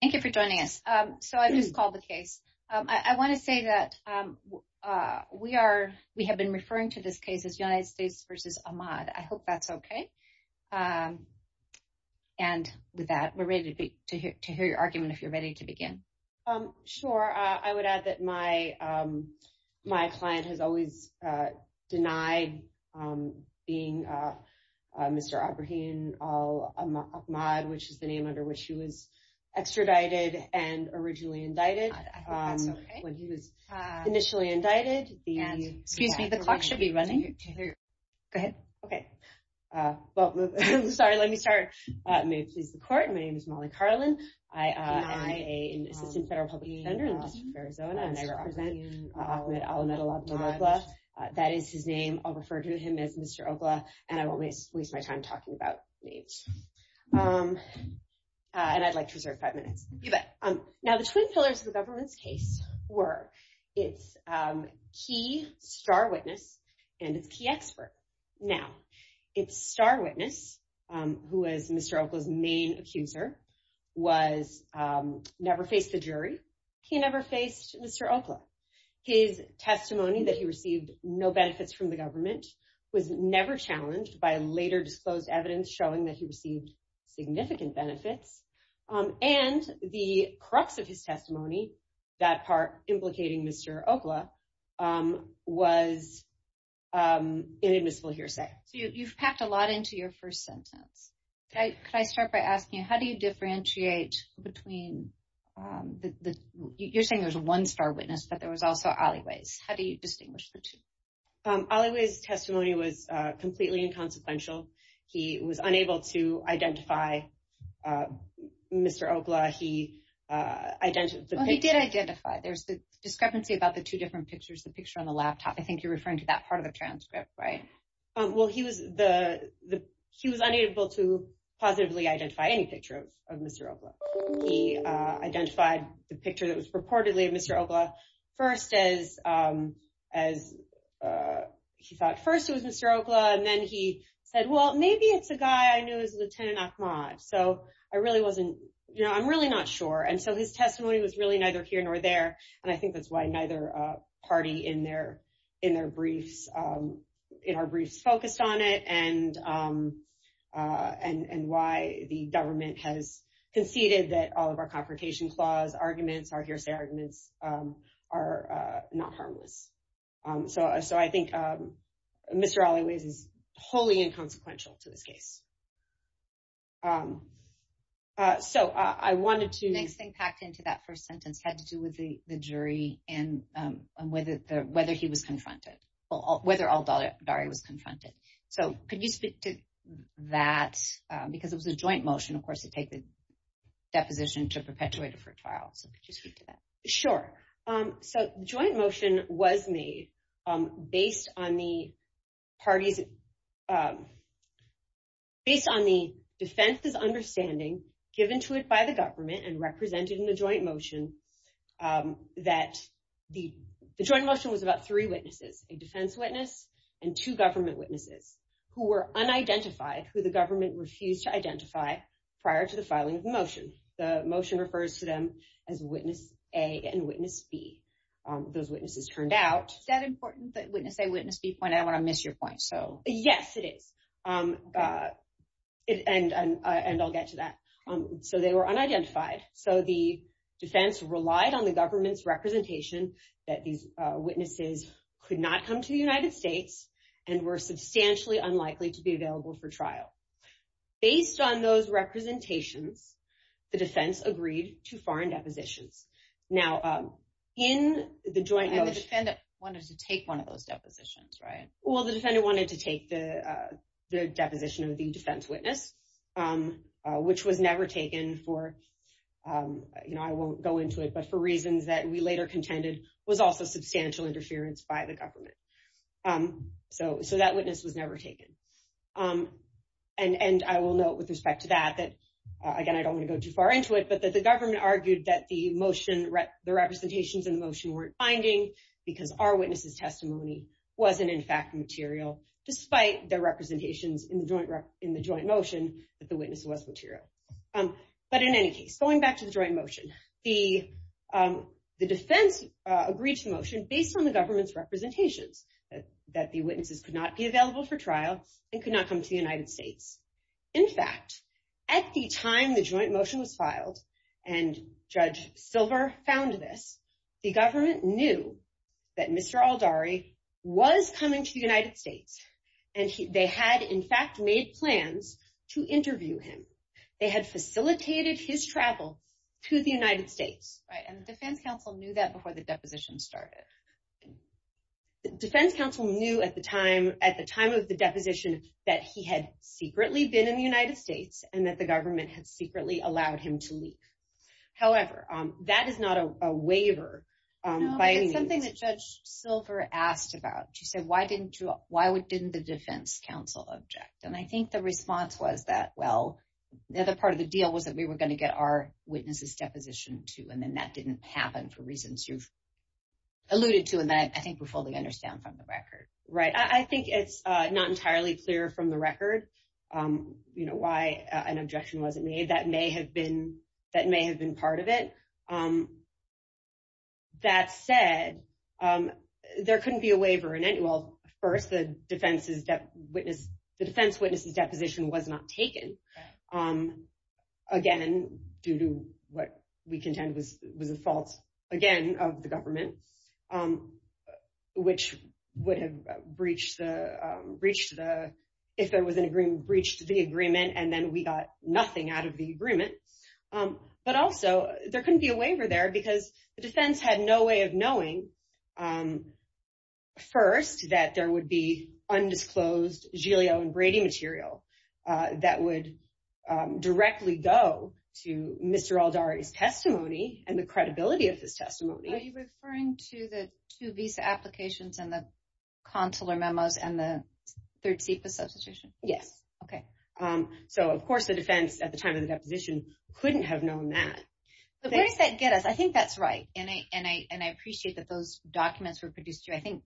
Thank you for joining us. I just called the case. I want to say that we have been referring to this case as United States v. Ahmad. I hope that's okay. And with that, we're ready to hear your argument if you're ready to begin. Sure. I would add that my client has always denied being Mr. Abrahim Al-Ahmad, which is the name under which he was extradited and originally indicted. He was initially indicted. Excuse me, the clock should be running. Go ahead. Okay. Sorry, let me start. May it please the court, my name is Molly Carlin. I am an to him as Mr. Oklah, and I won't waste my time talking about names. I'd like to reserve five minutes. Now, the two pillars of the government's case were its key star witness and its key expert. Now, its star witness, who was Mr. Oklah's main accuser, never faced the jury. He never received any benefits from the government, was never challenged by later disclosed evidence showing that he received significant benefits, and the crux of his testimony, that part implicating Mr. Oklah, was inadmissible hearsay. You've packed a lot into your first sentence. Could I start by asking, how do you differentiate between... You're saying there's one star witness, but there was also Olliwe's. How do you distinguish the two? Olliwe's testimony was completely inconsequential. He was unable to identify Mr. Oklah. He... Oh, he did identify. There's a discrepancy about the two different pictures, the picture on the laptop. I think you're referring to that part of the transcript, right? Well, he was unable to positively identify any picture of Mr. Oklah. He identified the picture that was purportedly of Mr. Oklah, first as he thought first it was Mr. Oklah, and then he said, well, maybe it's the guy I know as Lieutenant Ahmad. So I really wasn't... I'm really not sure. And so his testimony was really neither here nor there. And I think that's why neither party in their briefs focused on it, and why the government has conceded that all of our confrontation clause arguments, our hearsay arguments are not harmless. So I think Mr. Olliwe's is wholly inconsequential to this case. So I wanted to... Next thing packed into that first sentence had to do with the jury and whether he was confronted, whether Ollivari was confronted. So could you speak to that? Because it was a joint motion, of course, to take the deposition to perpetuate it for trial. Could you speak to that? Sure. So joint motion was made based on the party's... Based on the defense's understanding given to it by the government and represented in the joint motion that the joint motion was about three witnesses, a defense witness and two government witnesses who were unidentified, who the government refused to identify prior to the filing of the motion. The motion refers to them as witness A and witness B. Those witnesses turned out. Is that important, that witness A, witness B point out? I want to miss your point. So yes, it is. And I'll get to that. So they were unidentified. So the defense relied on the government's representation that these witnesses could not come to the United States and were substantially unlikely to be filed. Based on those representations, the defense agreed to foreign deposition. Now, in the joint motion... And the defendant wanted to take one of those depositions, right? Well, the defendant wanted to take the deposition of the defense witness, which was never taken for... I won't go into it, but for reasons that we later contended was also substantial interference by the government. So that witness was never taken. And I will note with respect to that, that again, I don't want to go too far into it, but that the government argued that the motion, the representations in the motion weren't binding because our witness's testimony wasn't in fact material despite the representations in the joint motion that the witness was material. But in any case, going back to the joint motion, the defense agreed to the motion based on the government's representation that the witnesses could not be available for trial and could not come to the United States. In fact, at the time the joint motion was filed and Judge Silver found this, the government knew that Mr. Aldari was coming to the United States and they had in fact made plans to interview him. They had facilitated his travel to the United States. And the defense counsel knew that before the deposition started. The defense counsel knew at the time of the deposition that he had secretly been in the United States and that the government had secretly allowed him to leave. However, that is not a waiver. It's something that Judge Silver asked about. She said, why didn't the defense counsel object? And I think the response was that, well, the other part of the deal was that we were going to get our witness's deposition too. And then that didn't happen for reasons you've alluded to and that I think we fully understand from the record. Right. I think it's not entirely clear from the record, you know, why an objection wasn't made. That may have been part of it. That said, there couldn't be a waiver in it. Well, first, the defense's witness's deposition was not taken. Again, due to what we contend was a fault. Again, of the government. Which would have breached the, if there was an agreement, breached the agreement and then we got nothing out of the agreement. But also, there couldn't be a waiver there because the defense had no way of knowing first that there would be undisclosed Giglio and Brady material that would directly go to Mr. Aldari's testimony and the credibility of his testimony. Are you referring to the two visa applications and the consular memos and the third seat association? Yes. Okay. So, of course, the defense at the time of the deposition couldn't have known that. So, there's that get us. I think that's right. And I appreciate that those documents were produced, I think,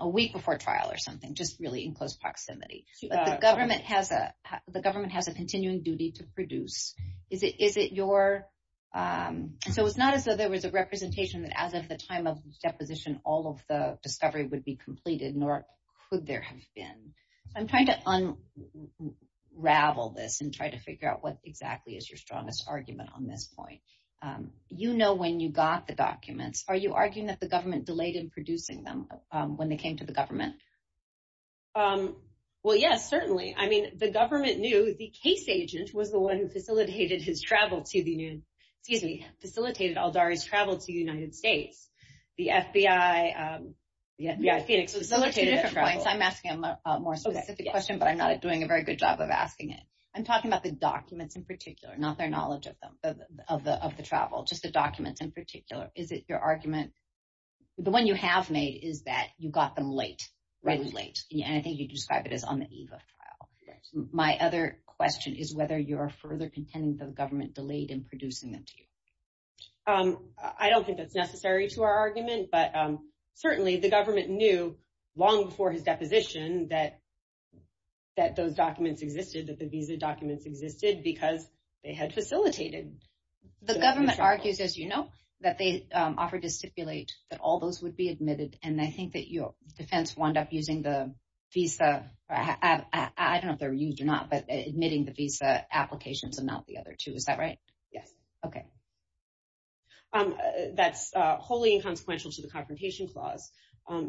a week before trial or something, just really in close proximity. The government has a So, it's not as though there was a representation that as of the time of the deposition, all of the discovery would be completed, nor could there have been. I'm trying to unravel this and try to figure out what exactly is your strongest argument on this point. You know when you got the documents, are you arguing that the government delayed in producing them when they came to the government? Well, yes, certainly. I mean, the government knew the case agent was the one who facilitated his travel to the United States. The FBI facilitated it. I'm asking a more specific question, but I'm not doing a very good job of asking it. I'm talking about the documents in particular, not their knowledge of them, of the travel, just the documents in particular. Is it your argument? The one you have made is that you got them late, and I think you described it as on the EVA file. My other question is whether you're further contending that the government delayed in producing them. I don't think that's necessary to our argument, but certainly the government knew long before his deposition that those documents existed, that the visa documents existed, because they had facilitated. The government argues, as you know, that they offered to stipulate that all those would be admitted, and I think that defense wound up using the visa, I don't know if they were used or not, but admitting the visa applications and not the other two. Is that right? Yes. Okay. That's wholly inconsequential to the confrontation clause,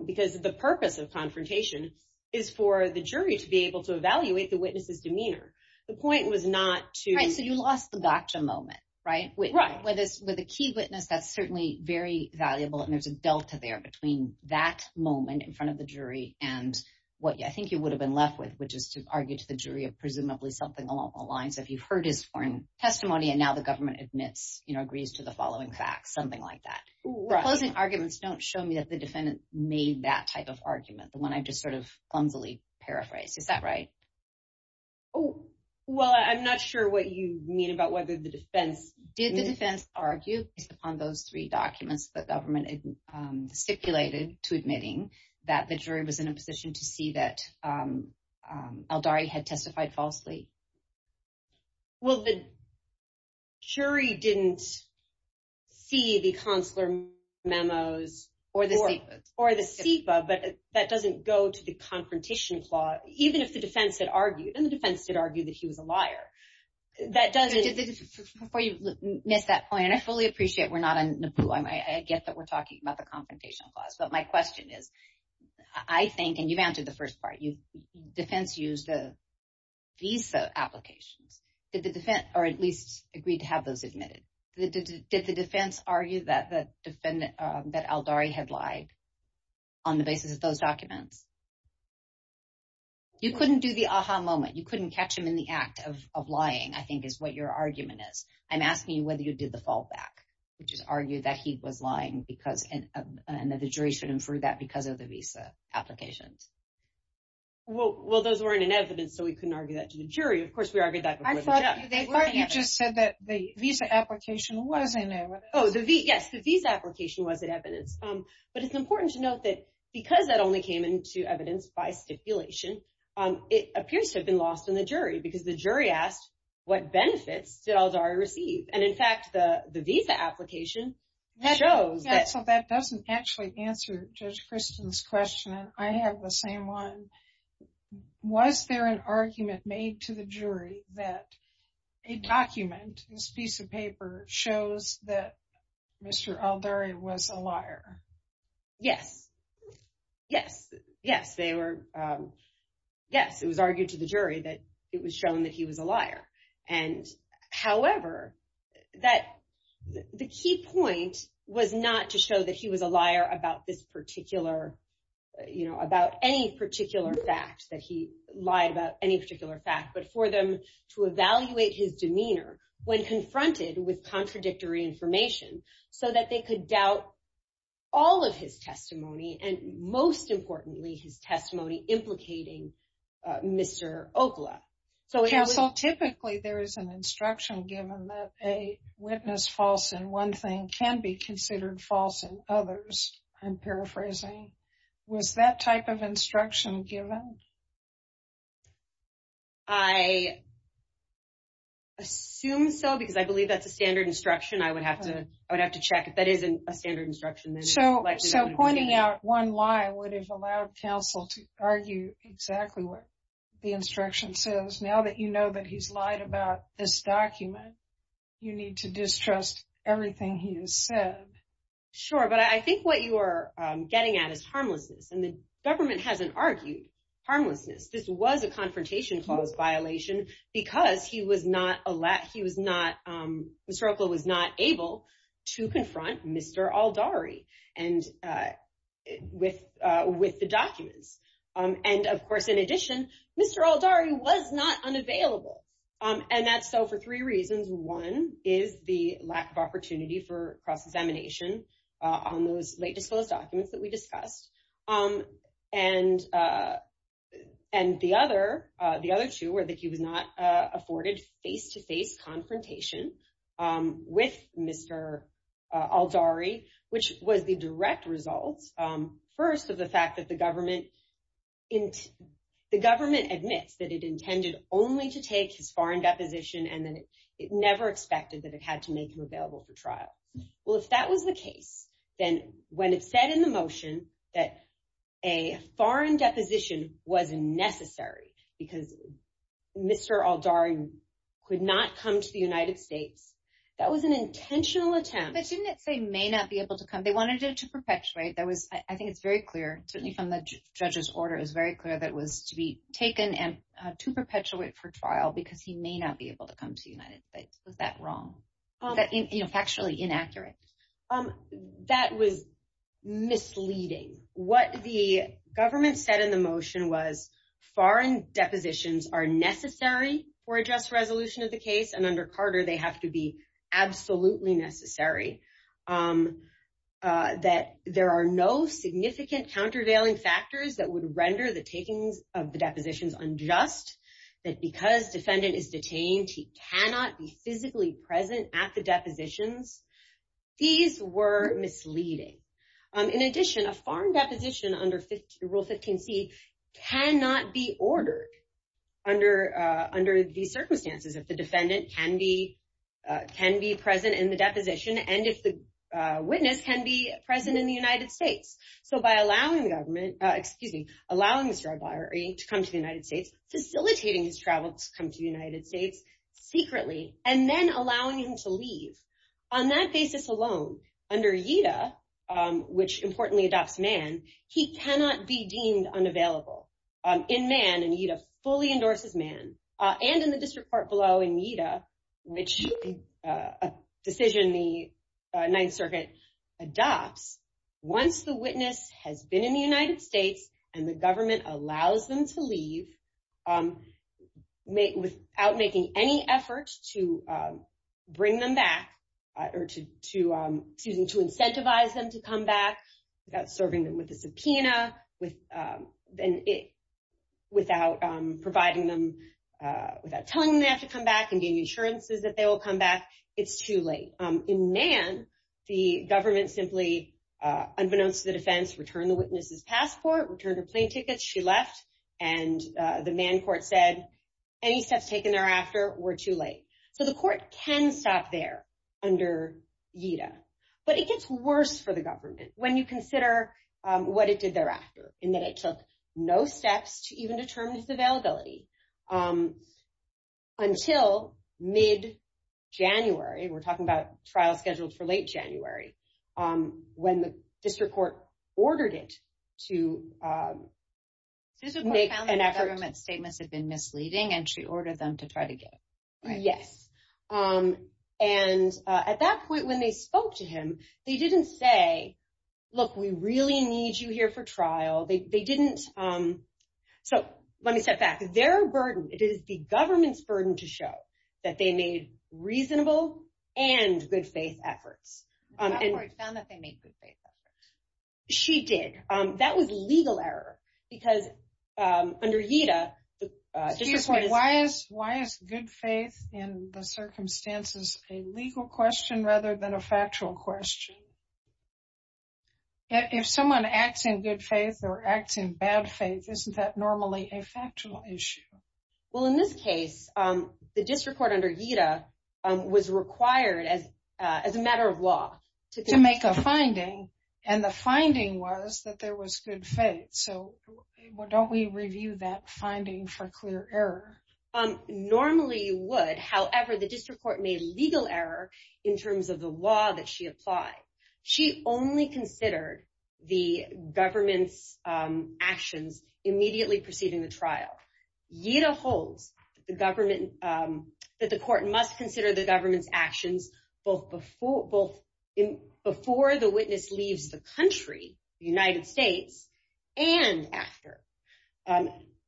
because the purpose of confrontation is for the jury to be able to evaluate the witness's demeanor. The point was not to... Right, so you lost the gotcha moment, right? Right. With a key witness, that's certainly very valuable, and there's a delta there between that moment in front of the jury and what I think you would have been left with, which is to argue to the jury of presumably something along the lines of, you've heard his sworn testimony, and now the government admits, agrees to the following facts, something like that. Arguments don't show me that the defendant made that type of argument, the one I just sort of humbly paraphrase. Is that right? Well, I'm not sure what you mean about whether the defense... Did the defense argue on those three documents that the government stipulated to admitting that the jury was in a position to see that Aldari had testified falsely? Well, the jury didn't see the consular memos or the FIPA, but that doesn't go to the confrontation clause, even if the defense did argue, and the defense did argue that he was a liar. I fully appreciate we're not on NAPUA. I guess that we're talking about the confrontation clause, but my question is, I think, and you've answered the first part, defense used these applications. Did the defense, or at least agreed to have those admitted? Did the defense argue that Aldari had lied on the basis of those documents? You couldn't do the aha moment. You couldn't catch him in the act of lying, I think is what your argument is, and ask me whether you did the fallback, which is argue that he was lying, and that the jury should infer that because of the visa application. Well, those weren't in evidence, so we couldn't argue that to the jury. Of course, we argued that... I thought you just said that the visa application was in there. Oh, yes, the visa application was in evidence, but it's important to note that because that only came to evidence by stipulation, it appears to have been lost in the jury because the jury asked what benefits did Aldari receive, and in fact, the visa application shows that... Yeah, so that doesn't actually answer Judge Christen's question. I have the same one. Was there an argument made to the jury that a document, a piece of paper, shows that yes, they were... Yes, it was argued to the jury that it was shown that he was a liar. However, the key point was not to show that he was a liar about any particular fact, that he lied about any particular fact, but for them to evaluate his demeanor when confronted with his testimony implicating Mr. Okla. Well, typically, there is an instruction given that a witness false in one thing can be considered false in others. I'm paraphrasing. Was that type of instruction given? I assume so because I believe that's a standard instruction. I would have to check if that is a standard instruction. So pointing out one lie would have allowed counsel to argue exactly what the instruction says. Now that you know that he's lied about this document, you need to distrust everything he has said. Sure, but I think what you are getting at is harmlessness, and the government hasn't argued harmlessness. This was a confrontation clause violation because Mr. Okla was not able to confront Mr. Aldari with the documents. Of course, in addition, Mr. Aldari was not unavailable, and that's so for three reasons. One is the lack of opportunity for cross-examination on those late-to-close documents that we discussed, and the other two were that he was not available for trial. So the first reason is that the government admits that it intended only to take his foreign deposition and that it never expected that it had to make him available for trial. Well, if that was the case, then when it said in the motion that a foreign deposition was necessary because Mr. Aldari could not come to the United States, that was an intentional attempt. But didn't it say he may not be able to come? They wanted it to perpetuate. I think it's very clear, certainly from the judge's order, it was very clear that it was to be taken to perpetuate for trial because he may not be able to come to the United States. Was that wrong? Factually inaccurate. That was misleading. What the government said in the motion was foreign depositions are necessary for a just resolution of the case, and under Carter, they have to be absolutely necessary, that there are no significant countervailing factors that would render the taking of the depositions unjust, that because defendant is detained, he cannot be physically present at the depositions. These were misleading. In addition, a foreign deposition under Rule 15c cannot be ordered under these circumstances if the defendant can be present in the deposition and if the witness can be present in the United States. So by allowing Mr. Aldari to come to the United States, facilitating his travel to come to the United States secretly, and then allowing him to leave, on that basis alone, under EDA, which importantly adopts MAN, he cannot be deemed unavailable. In MAN, and EDA fully endorses MAN, and in the district court below in EDA, which is a decision the Ninth Circuit adopts, once the witness has been in the United States and the government allows them to leave, without making any effort to bring them back, or to incentivize them to come back, without serving them with a subpoena, without telling them they have to come back and getting insurances that they will come back, it's too late. In MAN, the government simply, unbeknownst to the defense, returned the witness's passport, returned her plane ticket, she left, and the MAN court said, any steps taken thereafter were too late. So the court can stop there, under EDA. But it gets worse for the government, when you consider what it did thereafter, in that it took no steps to even determine his availability, until mid-January, we're talking about trial schedules for late January, when the district court ordered it to make an effort... The district court found the government's statements had been misleading, and she ordered them to try again. Yes. And at that point, when they spoke to him, he didn't say, look, we really need you here for trial, they didn't... So, let me step back, their burden, it is the government's burden to show that they made reasonable and good faith efforts. The court found that they made good faith efforts. She did. That was legal error, because under EDA, the district court... Why is good faith, in the circumstances, a legal question, rather than a factual question? If someone acts in good faith, or acts in bad faith, isn't that normally a factual issue? Well, in this case, the district court, under EDA, was required, as a matter of law... To make a finding, and the finding was that there was good faith. So, don't we review that finding for clear error? Normally, you would. However, the district court made legal error, in terms of the law that she applied. She only considered the government's actions, immediately preceding the trial. Yet, a whole government... That the court must consider the government's actions, both before the witness leaves the country, the United States, and after.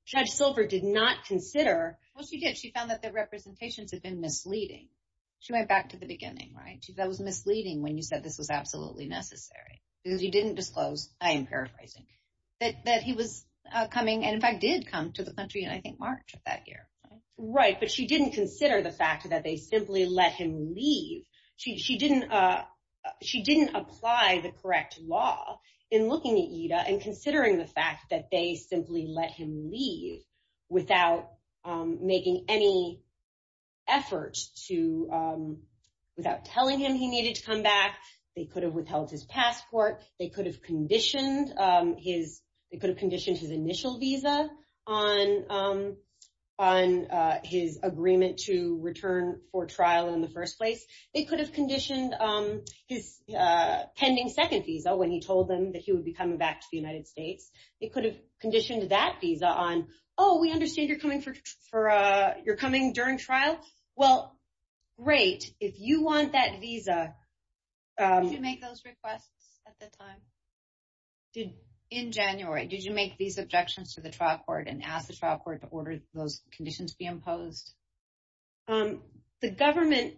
Judge Silver did not consider... Well, she did. She found that the representations had been misleading. She went back to the beginning, right? She said it was misleading, when you said this was absolutely necessary. Because you didn't disclose, I am paraphrasing, that he was coming, and in fact, did come to the country, and I think Mark took that here. Right, but she didn't consider the fact that they simply let him leave. She didn't apply the correct law, in looking at EDA, and considering the fact that they simply let him leave, without making any effort to... Without telling him he needed to come back. They could have withheld his passport. They could have conditioned his initial visa, on his agreement to return for trial, in the first place. They could have conditioned his pending second visa, when he told them that he would be coming back to the United States. They could have conditioned that visa on, oh, we understand you're coming during trial. Well, great, if you want that visa... Did you make those requests at the time? In January, did you make these objections to the trial court, and ask the trial court to order those conditions to be imposed? The government...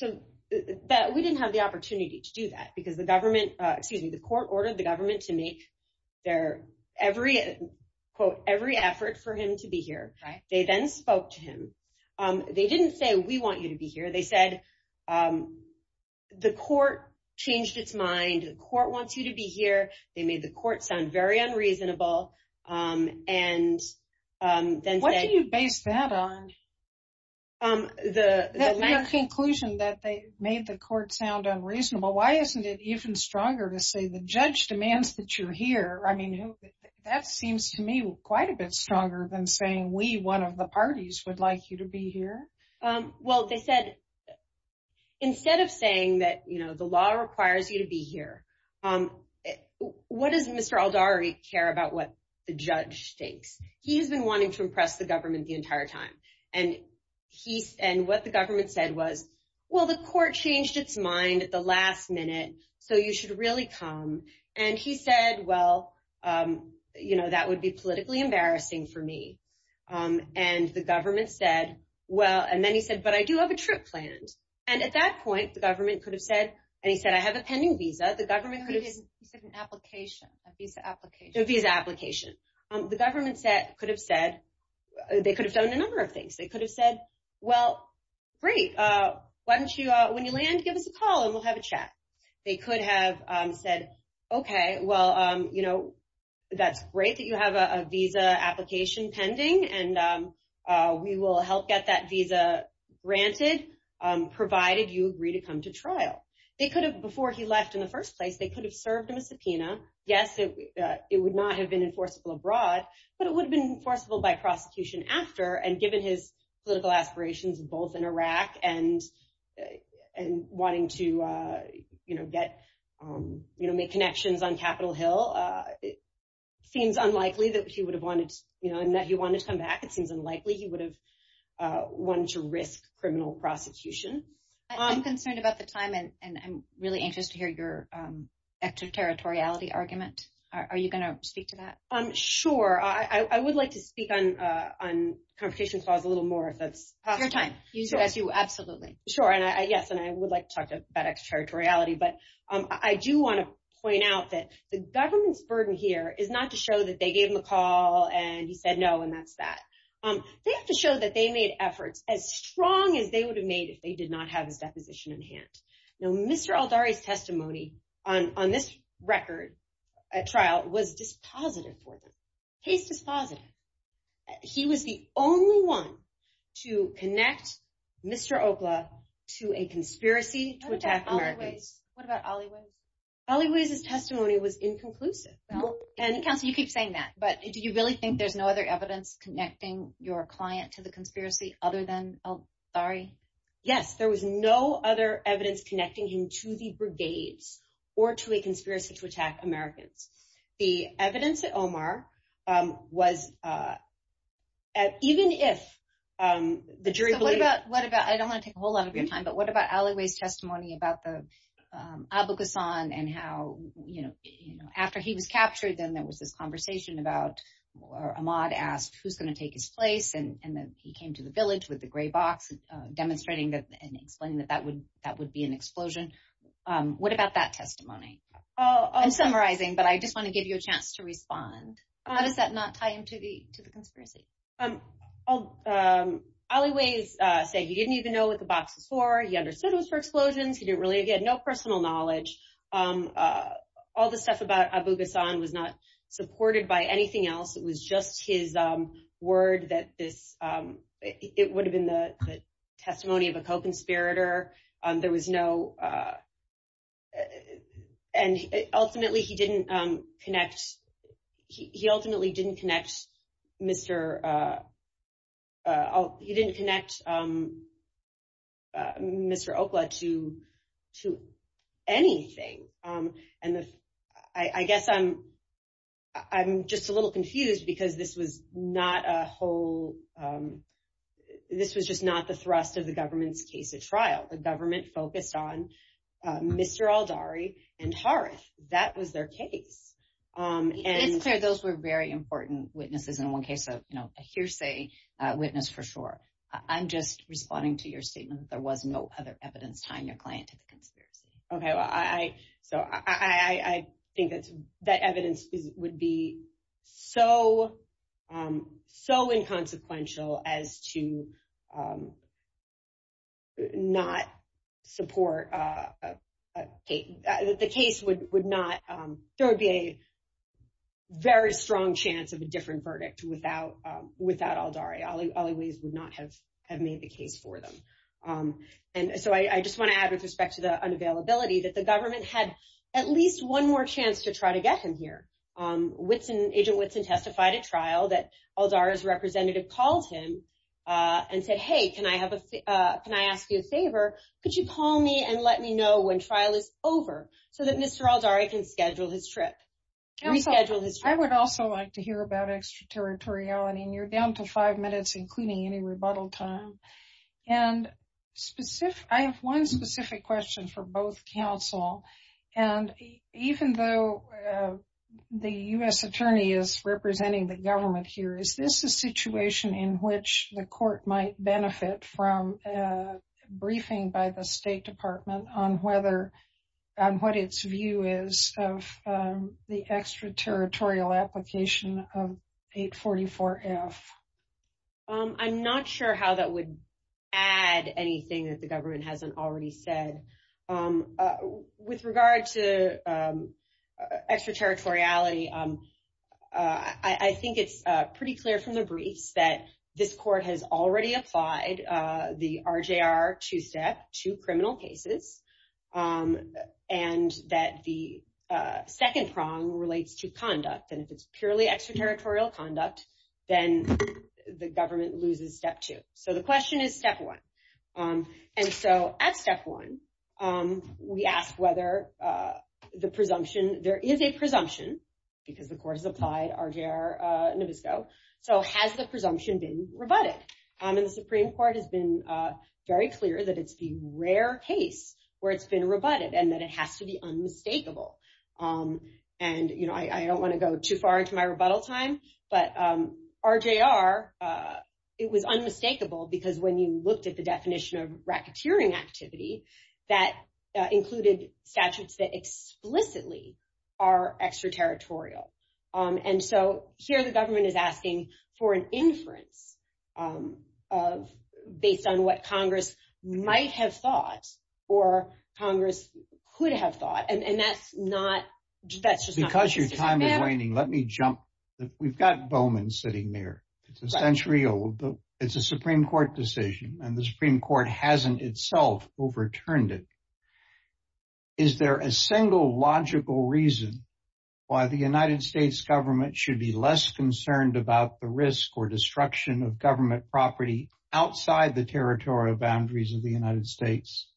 We didn't have the opportunity to do that, because the government... Excuse me, the court ordered the government to make their every effort for him to be here. They then spoke to him. They didn't say, we want you to be here. They said, the court changed its mind. The court wants you to be here. They made the court sound very unreasonable, and then... What do you base that on? The... The conclusion that they made the court sound unreasonable. Why isn't it even stronger to say, the judge demands that you're here. I mean, that seems to me quite a bit stronger than saying, we, one of the parties, would like you to be here. Well, they said, instead of saying that the law requires you to be here, what does Mr. Aldari care about what the judge thinks? He's been wanting to impress the government the entire time. And what the government said was, well, the court changed its mind at the last minute, so you should really come. And he said, well, you know, that would be politically embarrassing for me. And the government said, well... And then he said, but I do have a trip planned. And at that point, the government could have said, and he said, I have a pending visa. The government could have... An application, a visa application. A visa application. The government could have said, they could have said a number of things. They could have said, well, great. Why don't you, when you land, give us a call and we'll have a They could have said, okay, well, you know, that's great that you have a visa application pending, and we will help get that visa granted, provided you agree to come to trial. They could have, before he left in the first place, they could have served him a subpoena. Yes, it would not have been enforceable abroad, but it would have been enforceable by prosecution after. And given his political aspirations, both in Iraq and wanting to, you know, get, you know, make connections on Capitol Hill, it seems unlikely that he would have wanted, you know, and that he wanted to come back. It seems unlikely he would have wanted to risk criminal prosecution. I'm concerned about the time, and I'm really anxious to hear your extraterritoriality argument. Are you going to speak to that? Sure. I would like to speak on competition, so I have a little more of your time. You do, absolutely. Sure. And I guess, and I would like to talk about extraterritoriality, but I do want to point out that the government's burden here is not to show that they gave him a call and he said no, and that's that. They have to show that they made efforts as strong as they would have made if they did not have a deposition in hand. Now, Mr. Aldari's testimony on this record, at trial, was dispositive for him. He's dispositive. He was the only one to connect Mr. Okla to a conspiracy to attack America. What about Olliewood? Olliewood's testimony was inconclusive. You keep saying that, but do you really think there's no other evidence connecting your client to the conspiracy other than Aldari? Yes, there was no other evidence connecting him to the brigades or to a conspiracy to attack Americans. The evidence at Omar was, even if the jury believes... What about, I don't want to take a whole lot of your time, but what about Olliewood's testimony about the Abu Ghassan and how, you know, after he was captured, then there was this conversation about, or Ahmad asked, who's going to take his place? And then he came to the village with the demonstrating that that would be an explosion. What about that testimony? I'm summarizing, but I just want to give you a chance to respond. How does that not tie into the conspiracy? Olliewood said he didn't even know what the box was for. He understood it was for explosions. He didn't really... He had no personal knowledge. All the stuff about Abu Ghassan was not supported by anything else. It was just his word that this... It would have been the testimony of a co-conspirator. There was no... And ultimately, he didn't connect... He ultimately didn't connect Mr.... He didn't connect Mr. Okla to anything. And I guess I'm just a little confused because this was not a whole... This was just not the thrust of the government's case at trial. The government focused on Mr. Aldari and Horace. That was their case. And Claire, those were very important witnesses in one case. A hearsay witness for sure. I'm just responding to your statement. There was no other evidence tying your client to the conspiracy. Okay. I think that evidence would be so inconsequential as to not support... The case would not... There would be a very strong chance of a different verdict without Aldari. Ollie Weiss would not have made the case for them. And so I just want to add with respect to the unavailability that the government had at least one more chance to try to get him here. Agent Woodson testified at trial that Aldari's representative called him and said, hey, can I ask you a favor? Could you call me and let me know when trial is over so that Mr. Aldari can schedule his trip? Reschedule his trip. I would also like to hear about extraterritoriality. And you're down to five minutes, including any rebuttal time. And I have one specific question for both counsel. And even though the US attorney is representing the government here, is this a situation in which the court might benefit from a briefing by the State Department on what its view is of the extraterritorial application of 844F? I'm not sure how that would add anything that the government hasn't already said. With regard to extraterritoriality, I think it's pretty clear from the briefs that this court has already applied the RJR 2-STEP to criminal cases and that the second prong relates to conduct. And if it's purely extraterritorial conduct, then the government loses step two. So the question is step one. And so at step one, we ask whether the presumption, there is a presumption, because the court has applied RJR Novisco. So has the presumption been rebutted? And the Supreme Court has been very clear that it's the rare case where it's been rebutted and that it has to be unmistakable. And I don't want to go too far into my rebuttal time, but RJR, it was unmistakable because when you looked at the definition of racketeering activity, that included statutes that explicitly are extraterritorial. And so here the government is asking for an inference based on what Congress might have thought or Congress could have thought. And that's not... Because your time is running, let me jump. We've got Bowman sitting there. It's a century old. It's a Supreme Court decision and the Supreme Court hasn't itself overturned it. Is there a single logical reason why the United States government should be less concerned about the risk or destruction of government property outside the territorial boundaries of the United States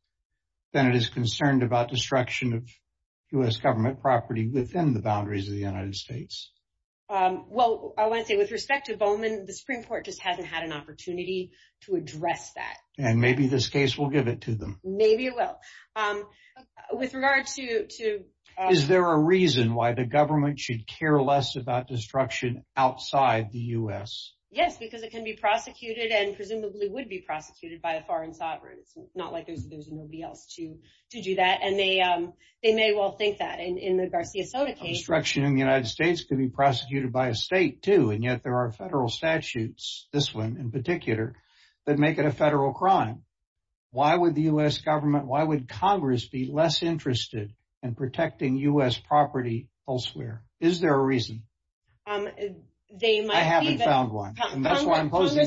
than it is concerned about destruction of US government property within the boundaries of the United States? Well, I want to say with respect to Bowman, the Supreme Court just hasn't had an opportunity to address that. And maybe this case will give it to them. Maybe it will. With regards to... Is there a reason why the government should care less about destruction outside the US? Yes, because it can be prosecuted and presumably would be helped to do that. And they may well think that in the Garcia Soto case. Destruction in the United States can be prosecuted by a state too. And yet there are federal statutes, this one in particular, that make it a federal crime. Why would the US government, why would Congress be less interested in protecting US property elsewhere? Is there a reason? I haven't found one. I'll say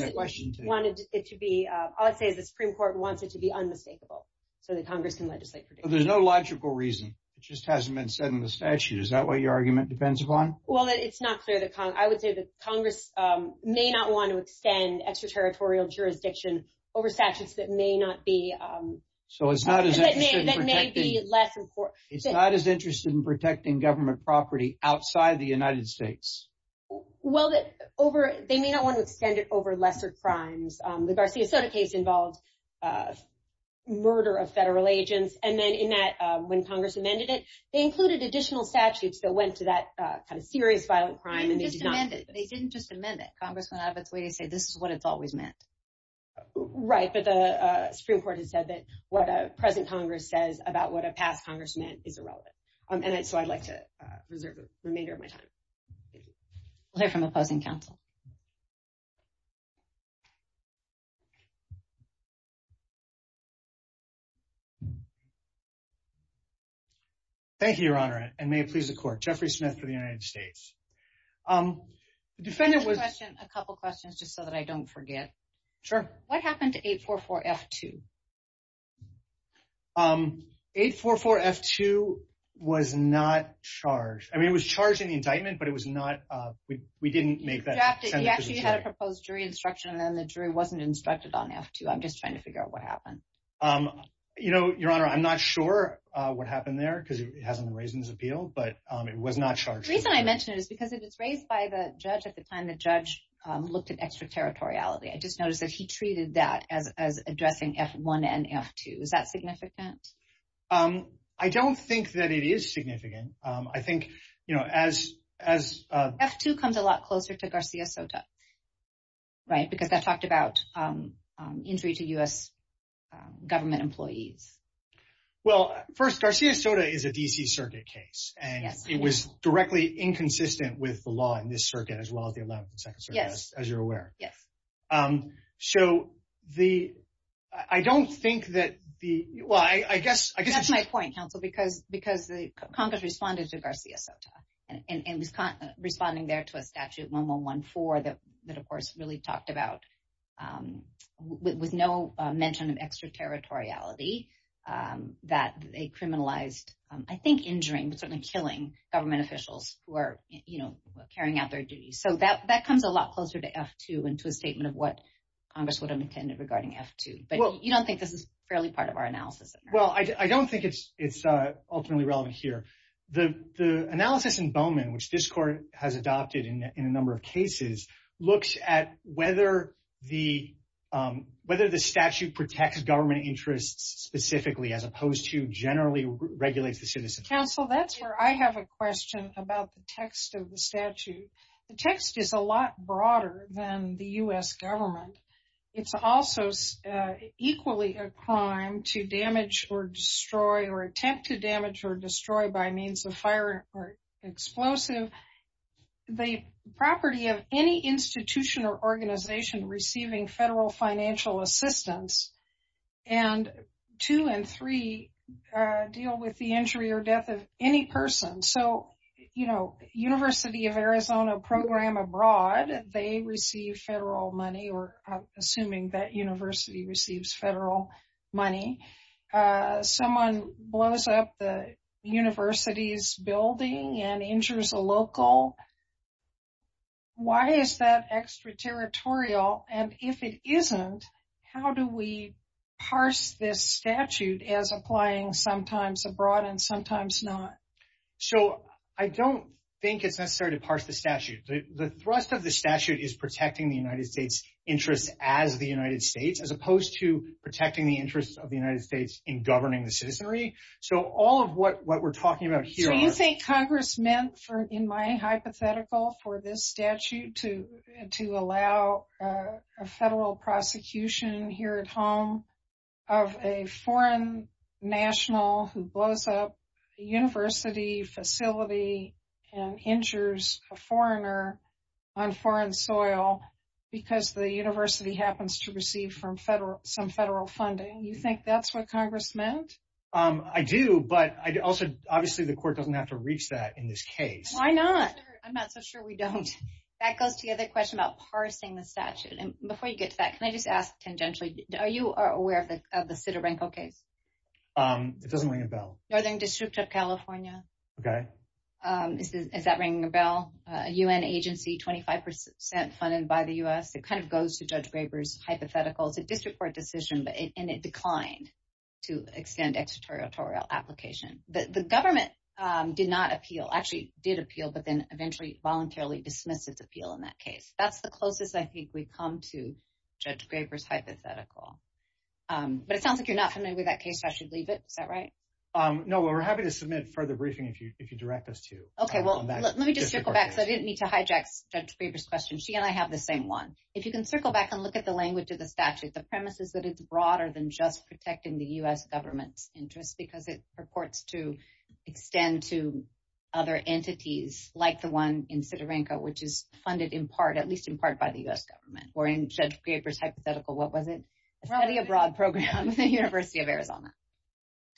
the Supreme Court wants it to be unmistakable so that Congress can legislate. There's no logical reason. It just hasn't been said in the statute. Is that what your argument depends upon? Well, it's not clear to Congress. I would say that Congress may not want to extend extraterritorial jurisdiction over statutes that may not be... That may be less important. It's not as interested in protecting government property outside the United States. Well, they may not want to extend it over lesser crimes. The Garcia Soto case involved murder of federal agents. And then in that, when Congress amended it, they included additional statutes that went to that kind of serious violent crime. They didn't just amend it. Congress will have its way to say, this is what it's always meant. Right. But the Supreme Court has said that what present Congress says about what a past Congress is irrelevant. And so I'd like to reserve the remainder of my time. Thank you, Your Honor. And may it please the court, Jeffrey Smith for the United States. A couple of questions just so that I don't forget. Sure. What happened to 844F2? 844F2 was not charged. I mean, it was charged in the indictment, but it was not... We didn't make that... You actually had a proposed jury instruction, and then the jury wasn't instructed on F2. I'm just trying to figure out what happened. You know, Your Honor, I'm not sure what happened there because it hasn't been raised in this appeal, but it was not charged. The reason I mentioned it is because it was raised by the judge at the time the judge looked at extraterritoriality. I just noticed that he treated that as addressing F2. Is that significant? I don't think that it is significant. I think, you know, as... F2 comes a lot closer to Garcia Soto, right? Because I talked about injury to US government employees. Well, first, Garcia Soto is a DC circuit case, and it was directly inconsistent with the law in this circuit, as well as the 11th and 2nd Circuit, as you're aware. Yes. So the... I don't think that the... Well, I guess... That's my point, Counselor, because the Congress responded to Garcia Soto, and was responding there to a statute, 1114, that, of course, really talked about with no mention of extraterritoriality, that they criminalized, I think, injuring, certainly killing, government officials who are, you know, carrying out their duties. So that comes a lot closer to F2, and to a statement of what Congress would have intended regarding F2. But you don't think this is fairly part of our analysis? Well, I don't think it's ultimately relevant here. The analysis in Bowman, which this Court has adopted in a number of cases, looks at whether the statute protects government interests specifically, as opposed to generally regulate the citizens. Counsel, that's where I have a question about the text of the statute. The text is a lot broader than the U.S. government. It's also equally a crime to damage or destroy, or attempt to damage or destroy by means of fire or explosive. The property of any institution or organization receiving federal financial assistance, and two and three deal with the injury or death of any person. So, you know, University of Arizona program abroad, they receive federal money, or assuming that university receives federal money. Someone blows up the university's building and injures a local. Why is that extraterritorial? And if it isn't, how do we parse this statute as applying sometimes abroad and sometimes not? So I don't think it's necessary to parse the statute. The thrust of the statute is protecting the United States' interests as the United States, as opposed to protecting the interests of the United States in governing the citizenry. So all of what we're talking about here- So you think Congress meant, in my hypothetical for this statute, to allow a federal prosecution here at home of a foreign national who blows up a university facility and injures a foreigner on foreign soil because the university happens to receive some federal funding. You think that's what Congress meant? I do, but obviously the court doesn't have to reach that in this case. Why not? I'm not so sure we don't. That goes to the other question about parsing the statute. And before you get to that, let me just ask tangentially, are you aware of the Sidorenko case? It doesn't ring a bell. Judging District of California. Okay. Is that ringing a bell? A UN agency, 25% funded by the US. It kind of goes to Judge Graber's hypothetical. It's a district court decision, and it declined to extend extraterritorial application. The government did not appeal, actually did appeal, but then eventually voluntarily dismissed its appeal in that case. That's the closest I think we've come to Judge Graber's hypothetical. But it sounds like you're not familiar with that case, so I should leave it. Is that right? No, we're happy to submit further briefing if you direct us to. Okay. Well, let me just circle back, because I didn't need to hijack Judge Graber's question. She and I have the same one. If you can circle back and look at the language of the statute, the premise is that it's broader than just protecting the US government's interest, because it purports to extend to other entities like the one in Sidorenko, which is funded in part by the US government. Or in Judge Graber's hypothetical, what was it? The study abroad program at the University of Arizona.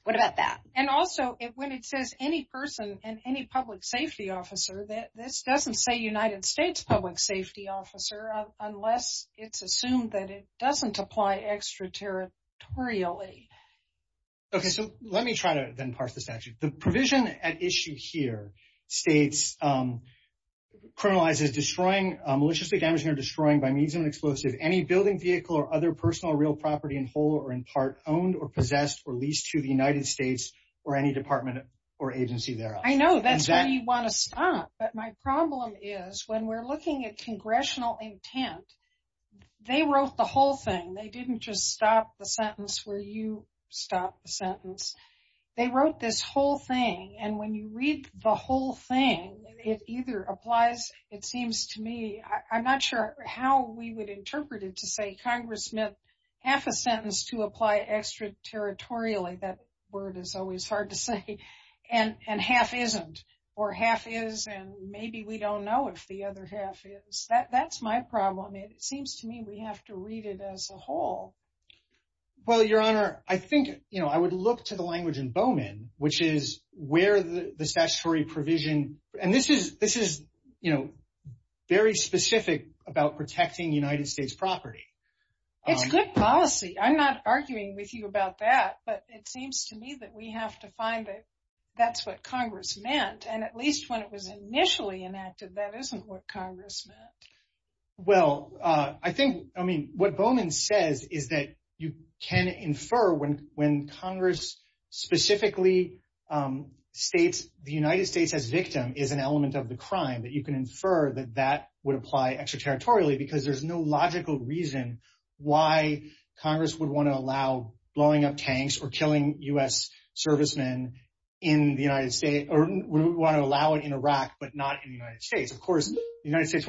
What about that? And also, when it says any person and any public safety officer, this doesn't say United States public safety officer, unless it's assumed that it doesn't apply extraterritorially. Okay, so let me try to then parse this out. The provision at issue here states that criminalizing, destroying, or destroying by means of an explosive any building, vehicle, or other personal or real property in whole or in part owned or possessed or leased to the United States or any department or agency thereof. I know, that's why you want to stop, but my problem is when we're looking at congressional intent, they wrote the whole thing. They didn't just stop the sentence where you stop the sentence. They wrote this whole thing, and when you read the whole thing, it either applies, it seems to me, I'm not sure how we would interpret it to say, Congressman, half a sentence to apply extraterritorially, that word is always hard to say, and half isn't, or half is, and maybe we don't know if the other half is. That's my problem. It seems to me we have to read it as a whole. Well, Your Honor, I think I would look to the language in Bowman, which is where the statutory provision, and this is very specific about protecting United States property. It's good policy. I'm not arguing with you about that, but it seems to me that we have to find that that's what Congress meant, and at least when it was initially enacted, that isn't what you can infer when Congress specifically states the United States as victim is an element of the crime, but you can infer that that would apply extraterritorially because there's no logical reason why Congress would want to allow blowing up tanks or killing U.S. servicemen in the United States, or would want to allow it in Iraq but not in the United States. Of course, the United States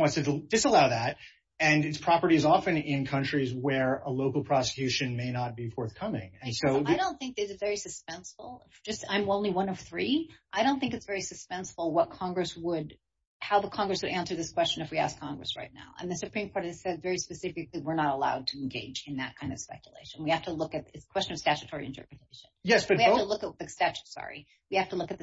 disallow that, and its property is often in countries where a local prosecution may not be forthcoming. I don't think it's very suspenseful. I'm only one of three. I don't think it's very suspenseful how the Congress would answer this question if we ask Congress right now, and the Supreme Court has said very specifically we're not allowed to engage in that kind of speculation. We have to look at the question of statutory interpretation. We have to look at the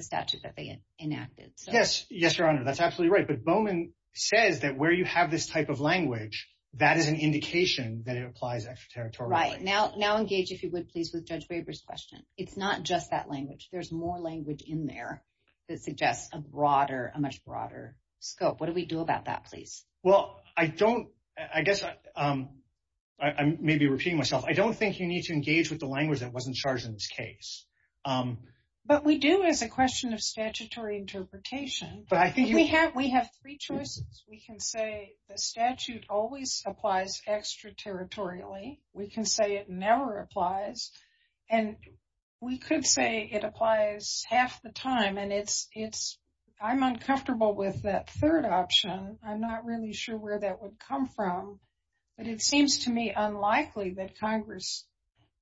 statutes that they enacted. Yes, Your Honor, that's absolutely right, but Bowman says that where you have this type of language, that is an indication that it applies extraterritorially. Right. Now engage, if you would, please, with Judge Weber's question. It's not just that language. There's more language in there that suggests a broader, a much broader scope. What do we do about that, please? Well, I guess I may be repeating myself. I don't think you need to engage with the language that wasn't charged in this case. But we do have the question of statutory interpretation. We have three choices. We can say the statute always applies extraterritorially. We can say it never applies, and we could say it applies half the time, and I'm uncomfortable with that third option. I'm not really sure where that would come from, but it seems to me unlikely that Congress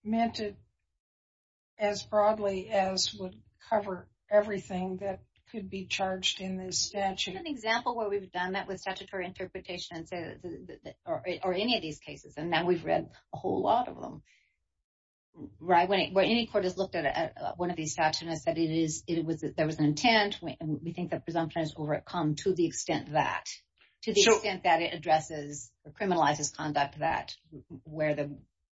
meant it as broadly as would cover everything that could be charged in this statute. There's an example where we've done that with statutory interpretation or any of these cases, and now we've read a whole lot of them. Right. When any court has looked at one of these statutes and said there was an intent, we think that presumption is overcome to the extent that it addresses the criminalized conduct where the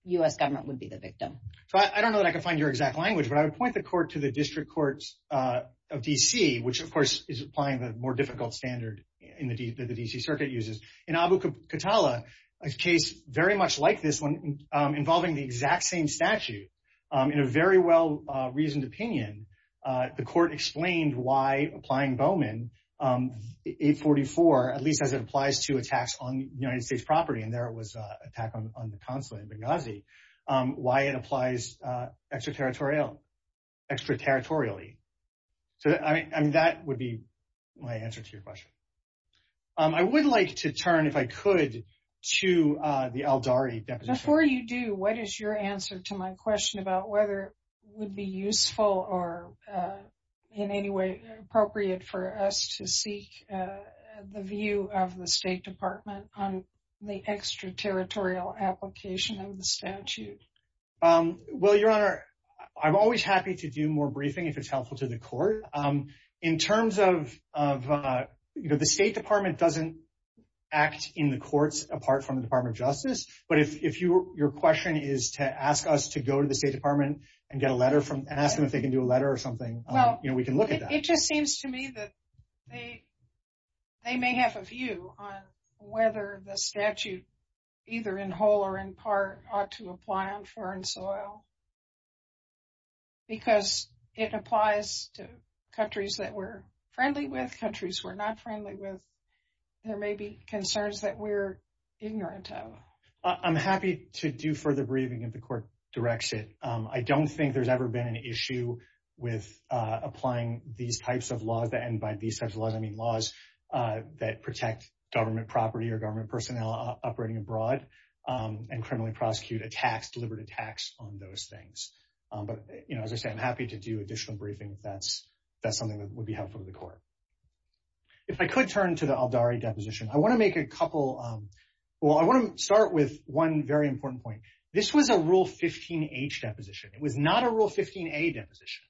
U.S. government would be the victim. I don't know that I can find your exact language, but I would point the court to the District Courts of D.C., which, of course, is applying the more difficult standard that the D.C. Circuit uses. In Abu Qatala, a case very much like this involving the exact same statute, in a very well-reasoned opinion, the court explained why tax on United States property, and there was an attack on the consulate in Benghazi, why it applies extraterritorially. That would be my answer to your question. I would like to turn, if I could, to the Aldari deposition. Before you do, what is your answer to my question about whether it would be useful or in any way appropriate for us to seek the view of the State Department on the extraterritorial application of the statute? Well, Your Honor, I'm always happy to do more briefing if it's helpful to the court. In terms of, you know, the State Department doesn't act in the courts apart from the Department of Justice, but if your question is to ask us to go to the State Department and get a letter from, and ask them if they can do a letter or something, you know, we can look at that. It just seems to me that they may have a view on whether the statute, either in whole or in part, ought to apply on foreign soil, because it applies to countries that we're friendly with, countries we're not friendly with. There may be concerns that we're ignorant of. I'm happy to do further briefing in the court direction. I don't think there's ever been an issue with applying these types of laws, and by these types of laws I mean laws that protect government property or government personnel operating abroad, and criminally prosecute attacks, deliberate attacks on those things. But, you know, as I say, I'm happy to do additional briefing if that's something that would be helpful to the court. If I could turn to the Aldari deposition, I want to make a couple of, well, I want to start with one very important point. This was a Rule 15H deposition. It was not a Rule 15A deposition,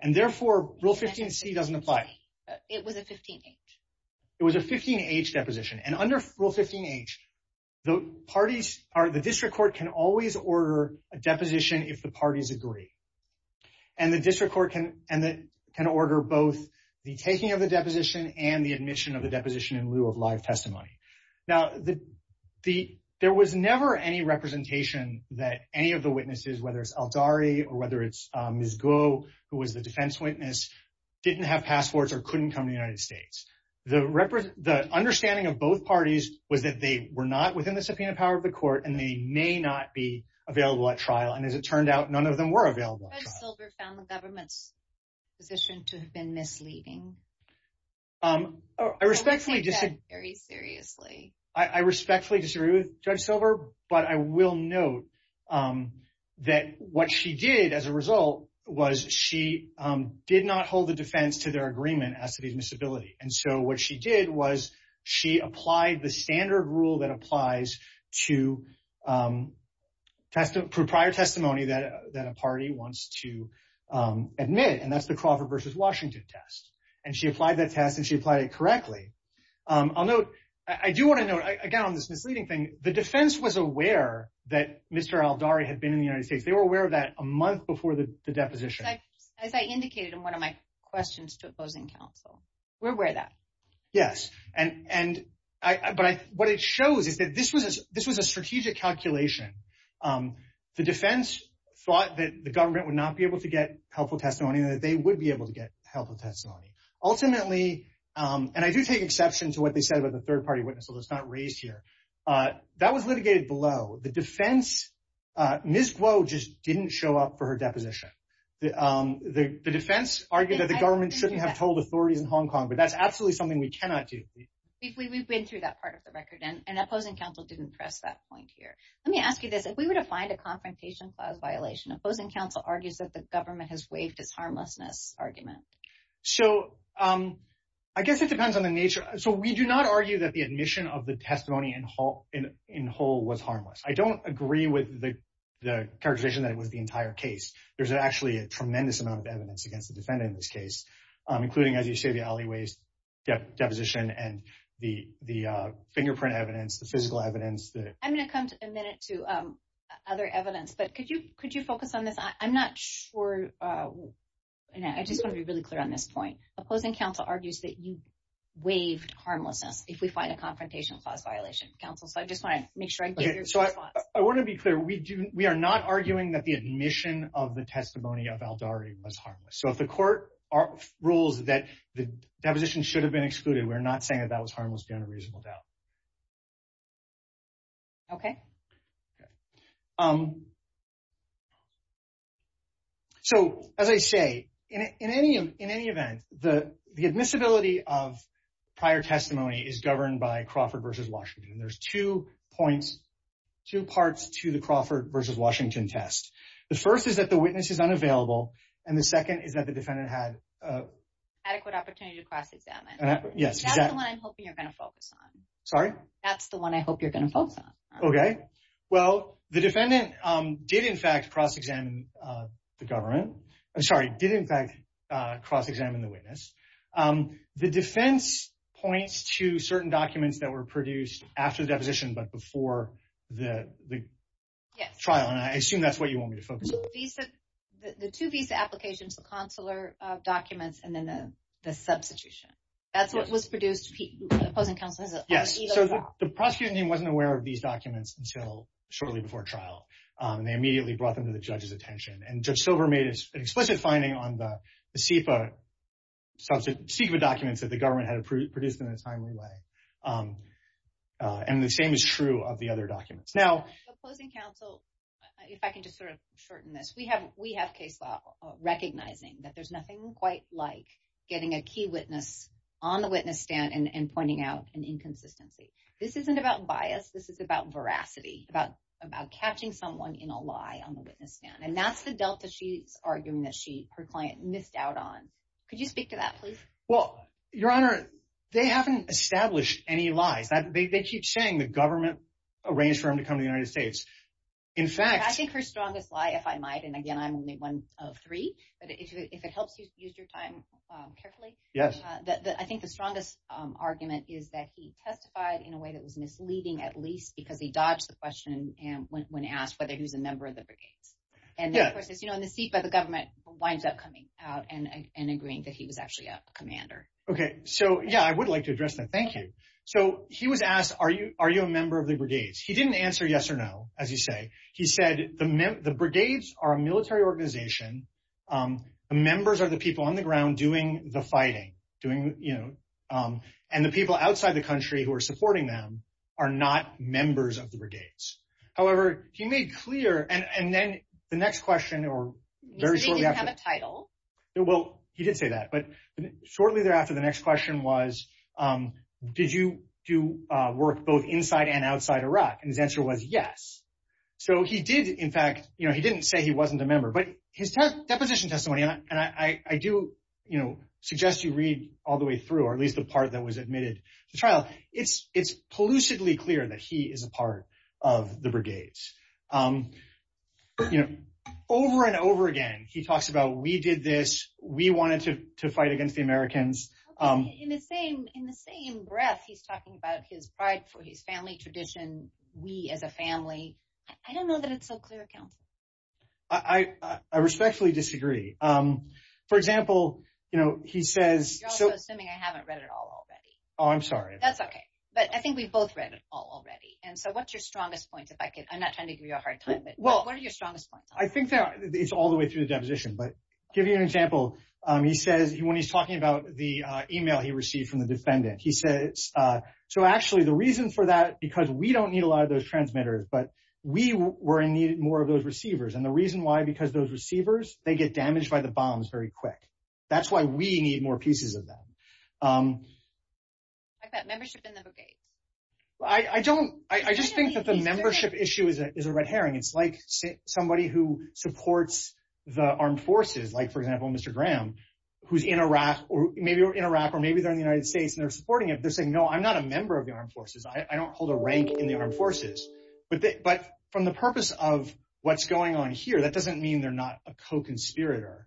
and therefore Rule 15C doesn't apply. It was a 15H. It was a 15H deposition, and under Rule 15H, the parties, the district court can always order a deposition if the parties agree, and the district court can order both the taking of a deposition and the admission of a deposition in lieu of live testimony. Now, there was never any representation that any of the witnesses, whether it's Aldari or whether it's Ms. Goh, who was the defense witness, didn't have passports or couldn't come to the United States. The understanding of both parties was that they were not within the subpoena power of the court, and they may not be available at trial, and as it turned out, none of them were available. Judge Silber found the government's position to have been misleading. I respectfully disagree with Judge Silber, but I will note that what she did as a result was she did not hold the defense to their agreement as to the admissibility, and so what she did was she applied the standard rule that applies to prior testimony that a party wants to admit, and that's the Crawford versus Washington test, and she applied that test and she applied it correctly. I'll note, I do want to note, again, on this misleading thing, the defense was aware that Mr. Aldari had been in the United States. They were aware of that a month before the deposition. As I indicated in one of my questions to opposing counsel, we're aware of that. Yes, and what it shows is that this was a strategic calculation. The defense thought that the government would not be able to get helpful testimony and that they would be able to get helpful testimony. Ultimately, and I do take exception to what they said about the third party witness, although it's not raised here, that was litigated below. The defense, Ms. Glow just didn't show up for her deposition. The defense argued that the government shouldn't have told authorities in Hong Kong, but that's absolutely something we cannot do. We've been through that part of the record, and opposing counsel didn't press that point here. Let me ask you this. If we were to find a confrontation file violation, opposing counsel argues that the government has waived its harmlessness argument. I guess it depends on the nature. We do not argue that the admission of the testimony in whole was harmless. I don't agree with the characterization that it was the entire case. There's actually a tremendous amount of evidence against the defendant in this case, including, as you say, the alleyways deposition and the fingerprint evidence, the physical evidence. I'm going to come in a minute to other evidence, but could you focus on this? I'm not sure. I just want to be really clear on this point. Opposing counsel argues that you waived harmlessness if we find a confrontation clause violation. I just want to make sure. I want to be clear. We are not arguing that the admission of the testimony of Aldari was harmless. If the court rules that the deposition should have been excluded, we're not saying that harmlessness is a reasonable doubt. As I say, in any event, the admissibility of prior testimony is governed by Crawford v. Washington. There's two parts to the Crawford v. Washington test. The first is that the witness is unavailable, and the second is that the defendant had adequate opportunity to cross-examine. That's the one I'm hoping you're going to focus on. Sorry? That's the one I hope you're going to focus on. Okay. Well, the defendant did, in fact, cross-examine the witness. The defense points to certain documents that were produced after deposition but before the trial, and I assume that's what you want me to focus on. The two visa applications, the consular documents, and then the substitution, that's what was produced. Yes. The prosecuting team wasn't aware of these documents until shortly before trial, and they immediately brought them to the judge's attention. Judge Silver made an explicit finding on the CFA documents that the government had produced in a timely way, and the same is true of the other documents. The closing counsel, if I can just sort of shorten this, we have case law recognizing that there's nothing quite like getting a key witness on the witness stand and pointing out an inconsistency. This isn't about bias. This is about veracity, about catching someone in a lie on the witness stand, and that's the delta she's arguing that her client missed out on. Could you speak to that, please? Well, Your Honor, they haven't established any lies. They keep saying the government arranged for him to come to the United States. In fact... I think her strongest lie, if I might, and again, I'm only one of three, but if it helps you use your time carefully... Yes. I think the strongest argument is that he testified in a way that was misleading, at least, because they dodged the question when asked whether he was a member of the brigade. And the CFA, the government, winds up coming out and agreeing that he was actually a commander. Okay. So, yeah, I would like to address that. Thank you. So he was asked, are you a member of the brigade? He didn't answer yes or no, as you say. He said the brigades are a military organization. The members are the people on the ground doing the fighting, and the people outside the country who are supporting them are not members of the brigades. However, he made clear, and then the next question... He didn't have a title. Well, he did say that, but shortly thereafter, the next question was, did you do work both inside and outside Iraq? And his answer was yes. So he did, in fact... He didn't say he wasn't a member, but his deposition testimony, and I do suggest you read all the way through, or at least the part that was admitted to trial. It's pollutedly clear that he is a part of the brigades. Over and over again, he talks about, we did this. We wanted to fight against the Americans. Okay. In the same breath, he's talking about his pride for his family tradition, we as a family. I don't know that it's so clear. I respectfully disagree. For example, he says... You're also assuming I haven't read it all already. Oh, I'm sorry. That's okay. But I think we've both read it all already, and so what's your strongest point? I'm not trying to give you a hard time, but what is your strongest point? I think it's all the way through the deposition, but give you an example. He says, when he's talking about the email he received from the defendant, he says, so actually, the reason for that, because we don't need a lot of those transmitters, but we were in need more of those receivers. And the reason why, because those receivers, they get damaged by the bombs very quick. That's why we need more pieces of them. I thought membership didn't have a base. I don't... I just think that the membership issue is a red herring. It's like somebody who supports the armed forces, like, for example, Mr. Graham, who's in Iraq, or maybe they're in the United States, and they're supporting him. They're saying, no, I'm not a member of the armed forces. I don't hold a rank in the armed forces. But from the purpose of what's going on here, that doesn't mean they're not a co-conspirator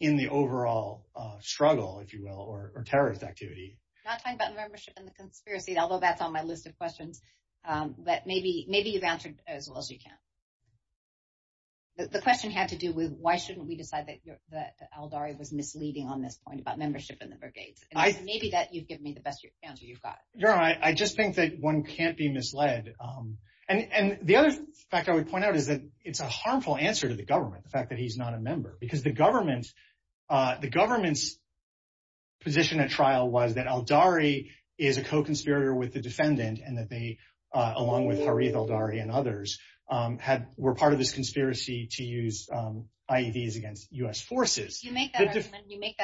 in the overall struggle, if you will, or terrorist activity. Not talking about the membership and the conspiracy, although that's on my list of but maybe you've answered as well as you can. The question had to do with why shouldn't we decide that Aldari was misleading on this point about membership and the brigades? Maybe that you've given me the best answer you've got. No, I just think that one can't be misled. And the other fact I would point out is that it's a harmful answer to the government, the fact that he's not a member, because the government's position at trial was that Aldari is a co-conspirator with the defendant, and that they, along with Harith Aldari and others, were part of this conspiracy to use IEDs against U.S. forces. You make that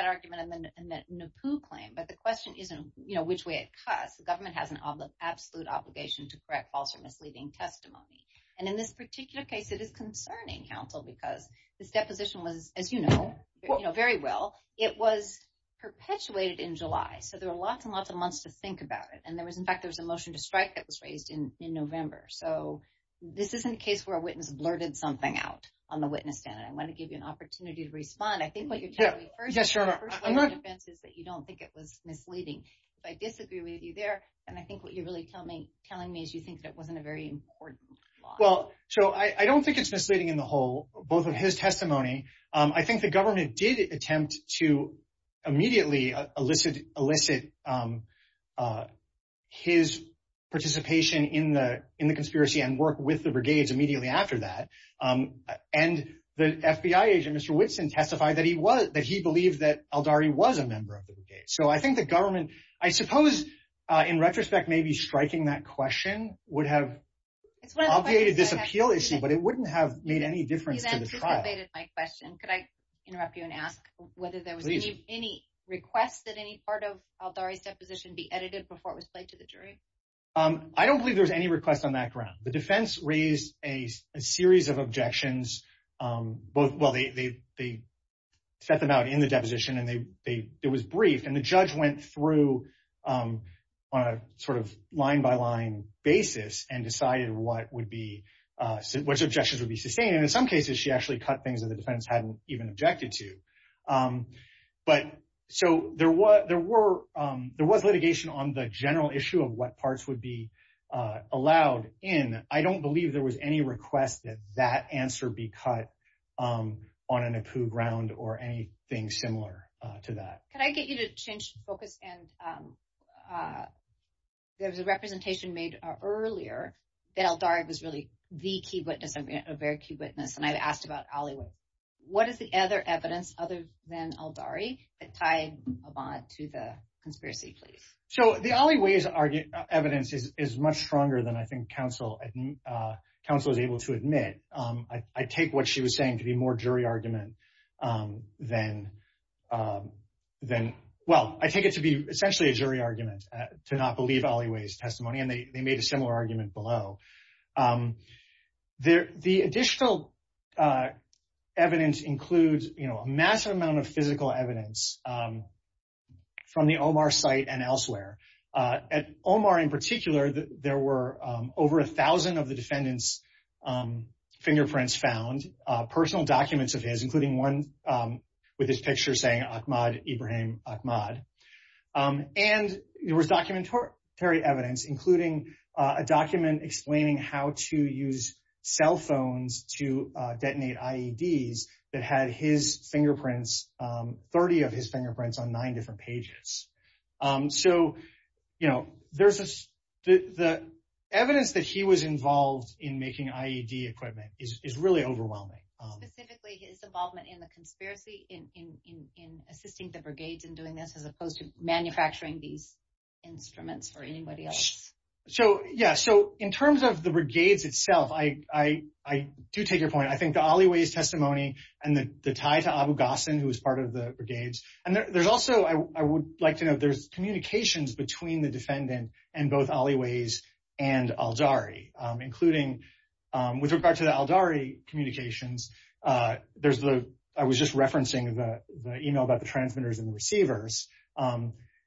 argument in the Pooh claim, but the question isn't which way it cuts. The government has an absolute obligation to correct false or misleading testimony. And in this particular case, it is concerning, Counsel, because this deposition was, as you know, very well, it was perpetuated in July. So there were lots and lots of months to think about it. And there was, in fact, there was a motion to strike that was raised in November. So this isn't a case where a witness blurted something out on the witness stand. I want to give you an opportunity to respond. I think what you're telling me first is that you don't think it was misleading. If I disagree with you there, and I think what you're really telling me is you think that wasn't very important. Well, so I don't think it's misleading in the whole, both of his testimony. I think the government did attempt to immediately elicit his participation in the conspiracy and work with the brigades immediately after that. And the FBI agent, Mr. Whitson, testified that he was, that he believed that Aldari was a member of the brigade. So I think the government, I suppose, in retrospect, maybe striking that question would have obviated this appeal issue, but it wouldn't have made any difference to the trial. Could I interrupt you and ask whether there was any request that any part of Aldari's deposition be edited before it was laid to the jury? I don't believe there was any request on that ground. The defense raised a series of objections. Well, they set them out in the deposition and it was brief. And the judge went through on a sort of line by line basis and decided what would be, which objections would be sustained. And in some cases she actually cut things that the defense hadn't even objected to. But so there was litigation on the general issue of what parts would be allowed in. I don't believe there was any request that that answer be cut on a NACU ground or anything similar to that. Can I get you to change focus? There was a representation made earlier that Aldari was really the key witness, a very key witness. And I had asked about Olliwe. What is the other evidence other than Aldari that tied a lot to the conspiracy plea? So the Olliwe's evidence is much stronger than I think counsel was able to admit. I take what she was saying to be more jury argument than, well, I take it to be essentially a jury argument to not believe Olliwe's testimony. And they made a similar argument below. The additional evidence includes a massive amount of physical evidence from the Omar site and elsewhere. At Omar in particular, there were over a thousand of the defendant's fingerprints found, personal documents of his, including one with his picture saying Ahmad Ibrahim Ahmad. And there was documentary evidence, including a document explaining how to use cell phones to detonate IEDs that had his fingerprints, 30 of his in making IED equipment is really overwhelming. Specifically his involvement in the conspiracy in assisting the brigades in doing this, as opposed to manufacturing these instruments for anybody else. So, yeah. So in terms of the brigades itself, I do take your point. I think the Olliwe's testimony and the tie to Abu Ghassan, who was part of the brigades, and there's also, I would like to know, there's communications between the defendant and both Olliwe's and including, with regard to the Aldari communications, there's the, I was just referencing the email about the transmitters and receivers.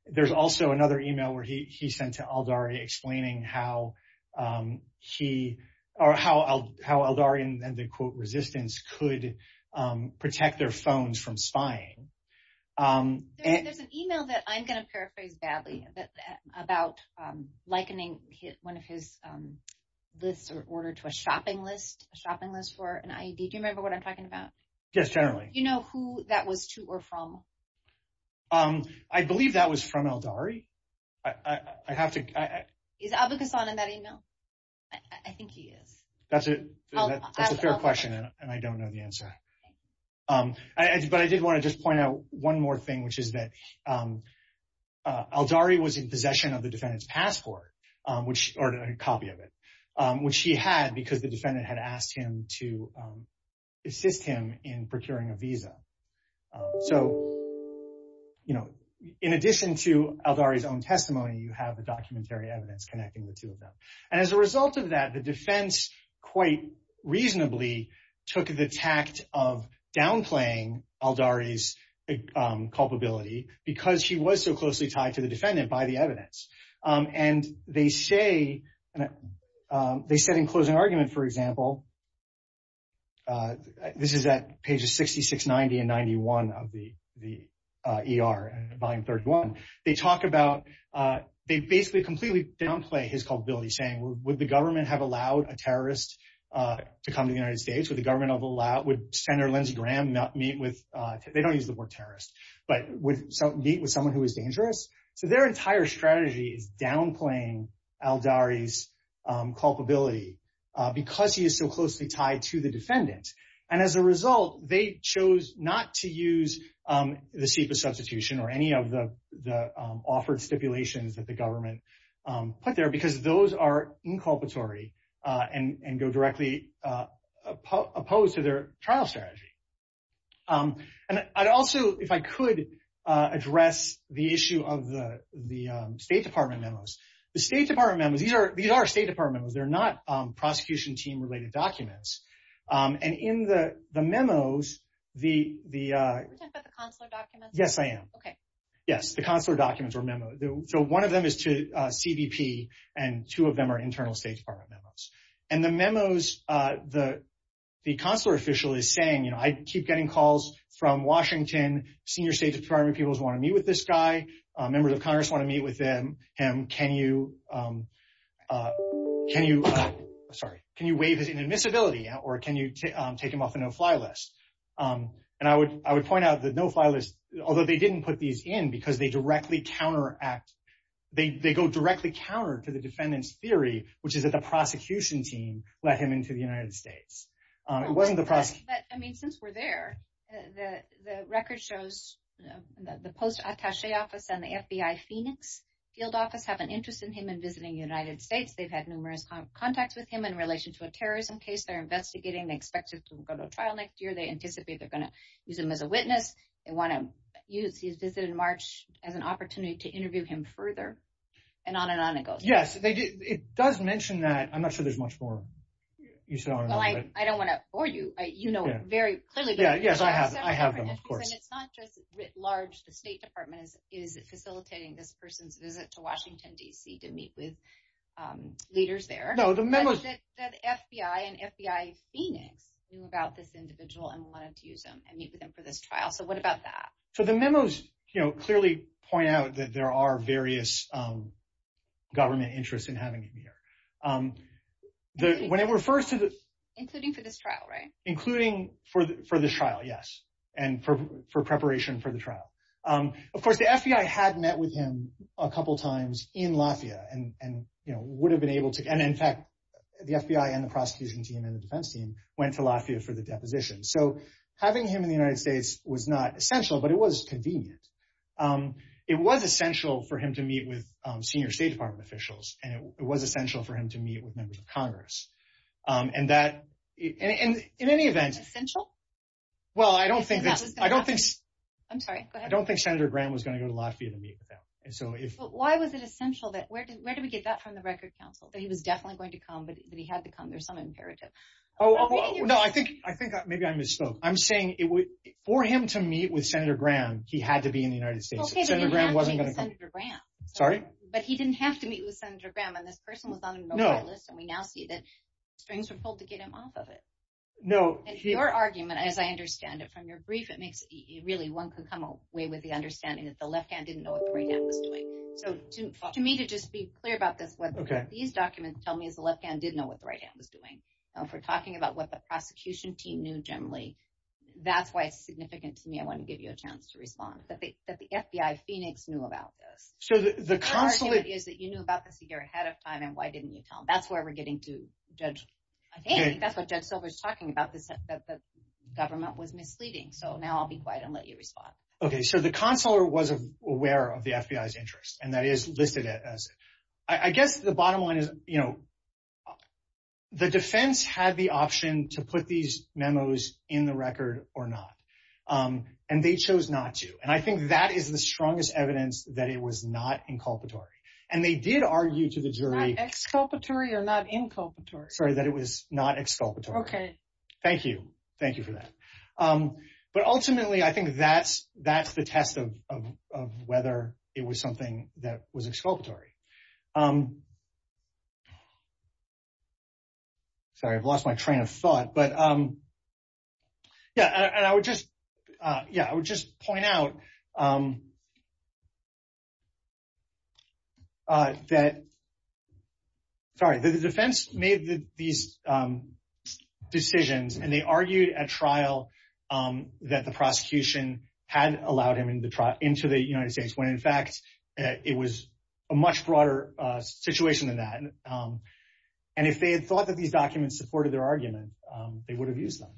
There's also another email where he sent to Aldari explaining how he, or how Aldari and the quote resistance could protect their phones from spying. There's an email that I'm going to paraphrase badly about likening one of his lists or order to a shopping list, a shopping list for an IED. Do you remember what I'm talking about? Yes, certainly. Do you know who that was to or from? I believe that was from Aldari. I have to... Is Abu Ghassan in that email? I think he is. That's a fair question and I don't know the answer. But I did want to just point out one more thing, which is that Aldari was in possession of the defendant's passport, or a copy of it, which he had because the defendant had asked him to assist him in procuring a visa. So, you know, in addition to Aldari's own testimony, you have the documentary evidence connecting the two of them. And as a tact of downplaying Aldari's culpability, because she was so closely tied to the defendant by the evidence. And they say, they said in closing argument, for example, this is at pages 66, 90, and 91 of the ER. They talk about, they basically completely downplay his culpability, saying would the government have allowed a terrorist to come to the United States? Would Senator Lindsey Graham meet with, they don't use the word terrorist, but would meet with someone who is dangerous? So their entire strategy is downplaying Aldari's culpability because he is so closely tied to the defendant. And as a result, they chose not to use the chief of substitution or any of the offered stipulations that the government put there, because those are inculpatory and go directly opposed to their trial strategy. And I'd also, if I could address the issue of the State Department memos. The State Department memos, these are State Department memos, they're not prosecution team related documents. And in the memos, the... Are you talking about the consular documents? Yes, I am. Okay. Yes, the consular documents are memos. So one of them is to CBP, and two of them are internal State Department memos. And the memos, the consular official is saying, I keep getting calls from Washington, senior State Department people want to meet with this guy. Members of Congress want to meet with him. Can you, sorry, can you waive his inadmissibility or can you take him off the no-fly list? And I would point out the no-fly list, although they didn't put these in because they go directly counter to the defendant's theory, which is that the prosecution team let him into the United States. It wasn't the prosecution. I mean, since we're there, the record shows the post-attaché office and the FBI Phoenix field office have an interest in him and visiting the United States. They've had numerous contacts with him in relation to a terrorism case they're investigating. They expect him to go to trial next year. They anticipate they're going to use him as a witness. They want to use his visit in an opportunity to interview him further and on and on it goes. Yes, it does mention that. I'm not sure there's much more. I don't want to bore you. You know it very clearly. Yeah, yes, I have them, of course. And it's not just writ large, the State Department is facilitating this person's visit to Washington, D.C. to meet with leaders there. No, the memos... That FBI and FBI Phoenix knew about this individual and wanted to use him and meet with him for this trial. So what about that? So the memos clearly point out that there are various government interests in having him here. When it refers to the... Including for this trial, right? Including for this trial, yes. And for preparation for the trial. Of course, the FBI had met with him a couple times in Latvia and would have been able to... And in fact, the FBI and the prosecution team and the defense team went to Latvia for the deposition. So having him in the United States was not essential, but it was convenient. It was essential for him to meet with senior State Department officials, and it was essential for him to meet with members of Congress. And that... In any event... Essential? Well, I don't think... I'm sorry, go ahead. I don't think Senator Graham was going to go to Latvia to meet with them. And so if... But why was it essential that... Where did we get that from the record counsel? That he was definitely going to come, but he had to come. There's some imperative. Oh, no, I think maybe I misspoke. I'm saying it would... For him to meet with Senator Graham, he had to be in the United States. Senator Graham wasn't going to come. Sorry? But he didn't have to meet with Senator Graham. And this person was on the list, and we now see that strings were pulled to get him off of it. No, he... Your argument, as I understand it, from your brief, it makes... Really, one could come away with the understanding that the left hand didn't know what the right hand was doing. So to me, to just be clear about this, what these documents tell me is the left hand didn't know what the right hand was doing. If we're talking about what the prosecution team knew generally, that's why it's significant to me. I want to give you a chance to respond. But the FBI, Phoenix, knew about this. So the consular... The question is that you knew about this a year ahead of time, and why didn't you tell them? That's where we're getting to, Judge... I think that's what Judge Silver's talking about, is that the government was misleading. So now I'll be quiet and let you respond. Okay. So the consular was aware of the FBI's interest, and that is listed as... I guess the bottom line is the defense had the option to put these memos in the record or not, and they chose not to. And I think that is the strongest evidence that it was not inculpatory. And they did argue to the jury... Not exculpatory or not inculpatory? Sorry, that it was not exculpatory. Okay. Thank you. Thank you for that. But ultimately, I think that's the test of whether it was something that was exculpatory. Sorry, I've lost my train of thought. But yeah, I would just point out that... Sorry, the defense made these decisions, and they argued at trial that the prosecution had allowed him into the United States, when in fact, it was a much broader situation than that. And if they had thought that these documents supported their argument, they would have used them.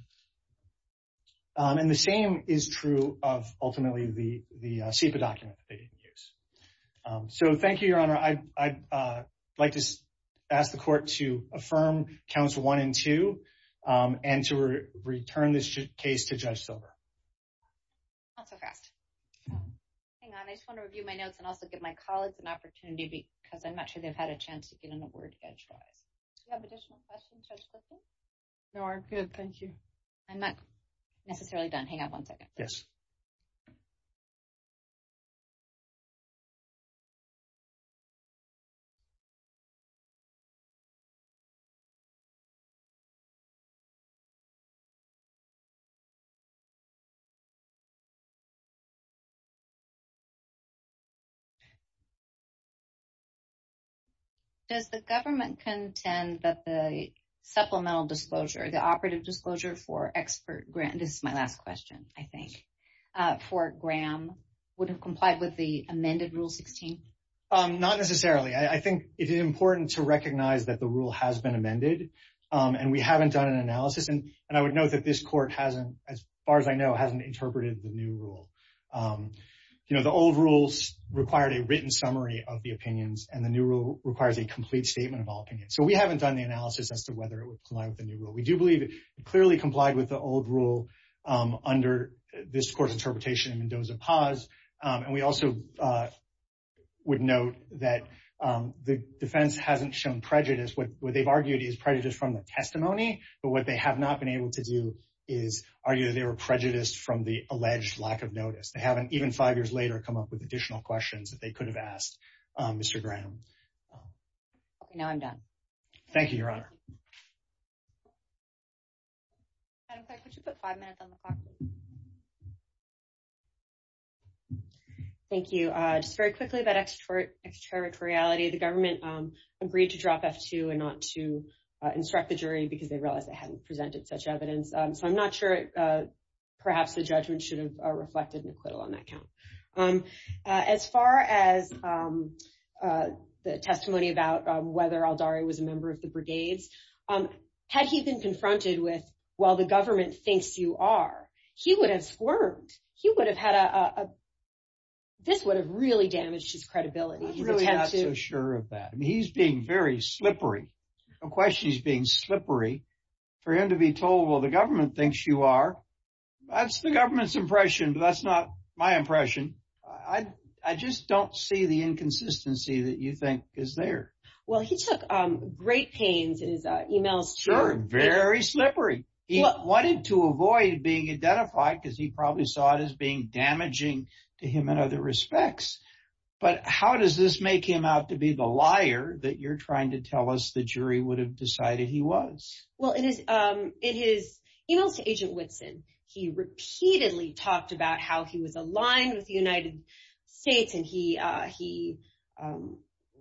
And the same is true of ultimately the SIPA document that they used. So thank you, Your Honor. I'd like to ask the court to affirm counts one and two, and to return this case to trial. Okay. Hang on. I just want to review my notes and also give my colleagues an opportunity because I'm not sure they've had a chance to get an award. Do you have additional questions, Judge Clifton? No, I'm good. Thank you. I'm not necessarily done. Hang on one second. Yes. Does the government contend that the supplemental disclosure, the operative disclosure for expert grant... This is my last question, I think, for Graham would have complied with the amended Rule 16? Not necessarily. I think it is important to recognize that the rule has been amended, and we haven't done an analysis. And I would note that this court hasn't, as far as I know, hasn't interpreted the new rule. The old rules required a written summary of the opinions, and the new rule requires a complete statement of all opinions. So we haven't done the analysis as to whether it would comply with the new rule. We do believe it clearly complied with the old rule under this court's interpretation, and there was a pause. And we also would note that the prejudice from the testimony, but what they have not been able to do is argue they were prejudiced from the alleged lack of notice. They haven't, even five years later, come up with additional questions that they could have asked Mr. Graham. Now I'm done. Thank you, Your Honor. Thank you. Just very quickly about extraterritoriality. The government agreed to instruct the jury because they realized they hadn't presented such evidence. So I'm not sure perhaps the judgment should have reflected an acquittal on that count. As far as the testimony about whether Azari was a member of the brigade, had he been confronted with, while the government thinks you are, he would have squirmed. He would have had a, this would have really damaged his credibility. I'm not so sure of that. I mean, he's being very slippery. Of course he's being slippery. For him to be told, well, the government thinks you are, that's the government's impression, but that's not my impression. I just don't see the inconsistency that you think is there. Well, he took great pains in his emails. Sure, very slippery. He wanted to avoid being identified because he probably saw it as being the liar that you're trying to tell us the jury would have decided he was. Well, in his email to Agent Whitson, he repeatedly talked about how he was aligned with the United States and he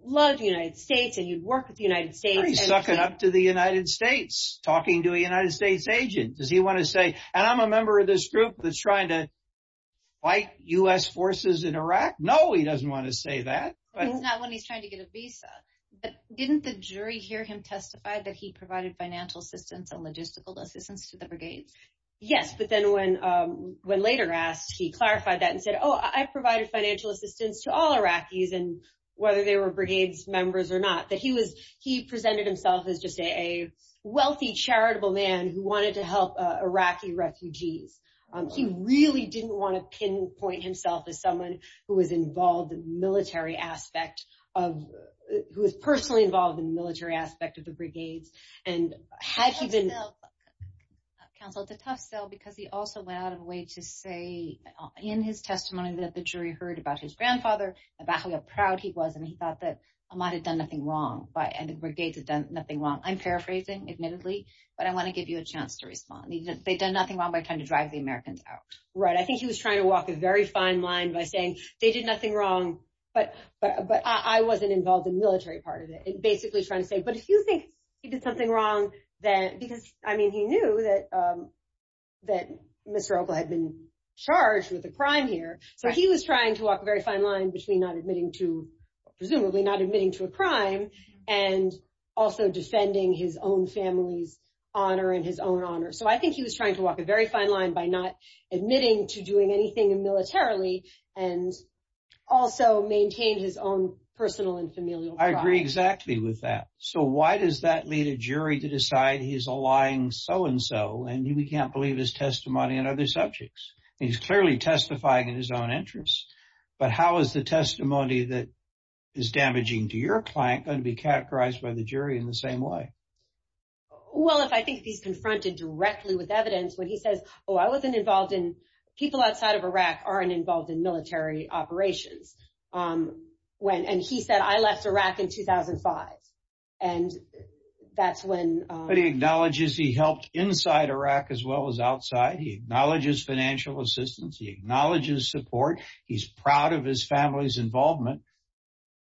loves the United States and he'd worked with the United States. Well, he's sucking up to the United States, talking to a United States agent. Does he want to say, and I'm a member of this group that's trying to fight US forces in Iraq. No, he doesn't want to say that. Not when he's trying to get a visa, but didn't the jury hear him testify that he provided financial assistance and logistical assistance to the brigades? Yes, but then when later asked, he clarified that and said, oh, I provided financial assistance to all Iraqis and whether they were brigades members or not, that he presented himself as just a wealthy, charitable man who wanted to help Iraqi refugees. He really didn't want to pinpoint himself as someone who was personally involved in the military aspect of the brigades. Counsel, it's a tough sell because he also went out of his way to say in his testimony that the jury heard about his grandfather, about how proud he was, and he thought that Ahmad had done nothing wrong and the brigades had done nothing wrong. I'm paraphrasing, admittedly, but I want to give you a chance to respond. They've done nothing wrong by trying to drive the Americans out. Right. I think he was trying to walk a very fine line by saying they did nothing wrong, but I wasn't involved in the military part of it, and basically trying to say, but if you think he did something wrong, because he knew that Mr. Elba had been charged with a crime here, but he was trying to walk a very fine line between not admitting to, presumably, not admitting to a crime and also defending his own family's honor and his own family's honor. So I think he was trying to walk a very fine line by not admitting to doing anything militarily and also maintain his own personal and familial pride. I agree exactly with that. So why does that lead a jury to decide he's a lying so-and-so, and you can't believe his testimony on other subjects? He's clearly testifying in his own interest, but how is the testimony that is damaging to your client going to be categorized by the jury in the same way? Well, if I think he's confronted directly with evidence where he says, oh, I wasn't involved in, people outside of Iraq aren't involved in military operations, and he said, I left Iraq in 2005, and that's when... But he acknowledges he helped inside Iraq as well as outside. He acknowledges financial assistance. He acknowledges support. He's proud of his family's involvement.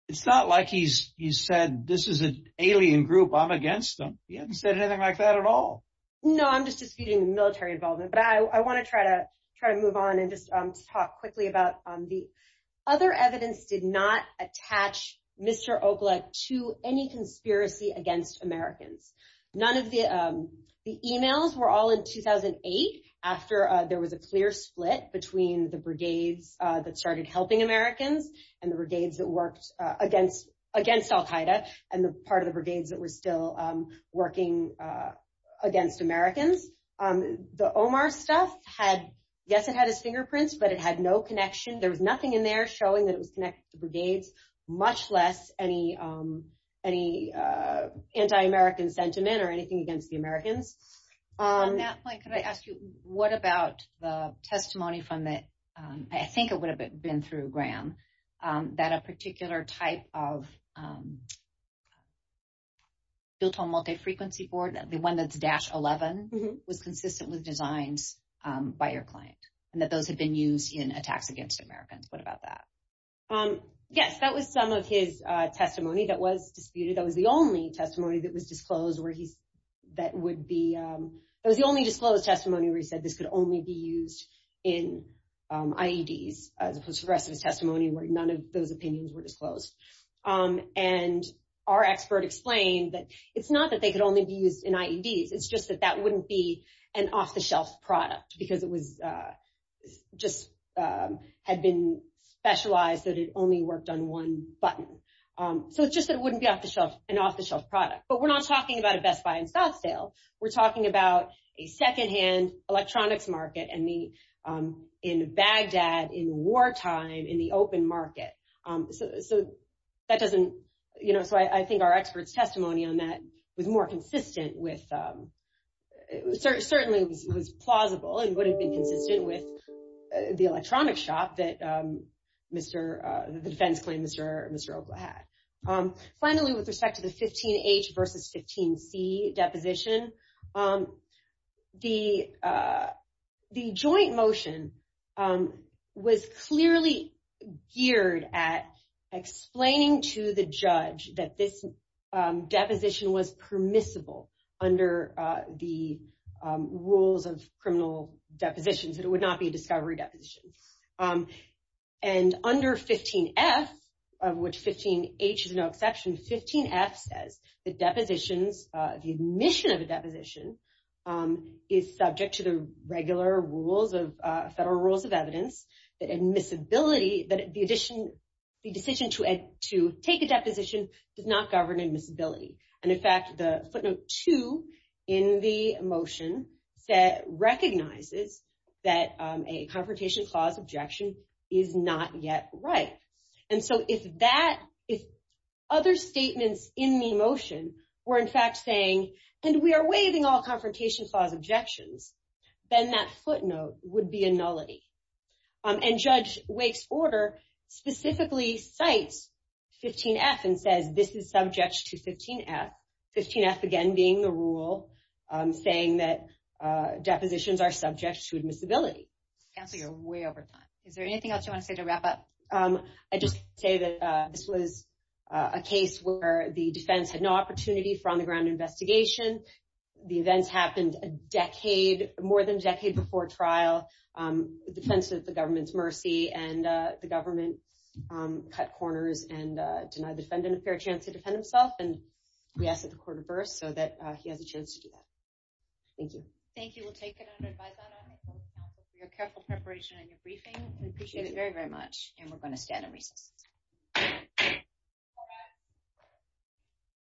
It's not like he said, this is an alien group. I'm against them. He hasn't said anything like that at all. No, I'm just excusing military involvement, but I want to try to move on and just talk quickly about the other evidence did not attach Mr. Okla to any conspiracy against Americans. None of the emails were all in 2008 after there was a clear split between the brigade that started helping Americans and the brigades that worked against al-Qaeda and the part of the brigades that were still working against Americans. The Omar stuff had, yes, it had a fingerprint, but it had no connection. There was nothing in there showing that it was connected to the brigades, much less any anti-American sentiment or anything against the Americans. On that point, could I ask you, what about the testimony from that, I think it would have been through Graham, that a particular type of built-on multi-frequency board, the one that's dash 11, was consistently designed by your client, and that those had been used in attacks against Americans. What about that? Yes, that was some of his testimony that was disputed. That was the only testimony that was disclosed where he, that would be, that was the only disclosed testimony where he said this could only be used in IEDs. This was progressive testimony where none of those opinions were disclosed. And our expert explained that it's not that they could only be used in IEDs. It's just that that wouldn't be an off-the-shelf product because it was just, had been specialized that it only worked on one button. So just that it wouldn't be off the shelf, an off-the-shelf product. But we're not talking about a Best Buy and Southdale. We're talking about a secondhand electronics market and the, in Baghdad, in wartime, in the open market. So that doesn't, you know, so I think our expert's testimony on that was more consistent with, certainly was plausible and would have been consistent with the electronics shop that Mr., the defense plaintiff, Mr. Opa had. Finally, with respect to the 15H versus 15C deposition, the joint motion was clearly geared at explaining to the judge that this deposition was permissible under the rules of criminal depositions, that it would not be a discovery deposition. And under 15F, of which 15H is no exception, 15F says the deposition, the admission of the deposition is subject to the regular rules of, federal rules of evidence, that admissibility, that the addition, the decision to take a deposition does not govern admissibility. And in fact, the footnote two in the motion that recognizes that a confrontation clause objection is not yet right. And so if that, if other statements in the motion were in fact saying, and we are waiving all confrontation clause objections, then that footnote would be a nullity. And Judge Wake's order specifically cites 15F and says, this is subject to 15F. 15F, again, being the rule saying that depositions are subject to admissibility. Is there anything else you want to say to wrap up? I just say that this was a case where the defense had no opportunity for on the ground investigation. The event happened a decade, more than a decade before trial. The sense of the government's mercy and the government cut corners and denied the defendant a fair chance to defend himself and reacted to court of birth so that he has a chance to do that. Thank you. Thank you. We'll take another five minutes. You have careful preparation in your briefing. We appreciate it very, very much. And we're going to end the meeting.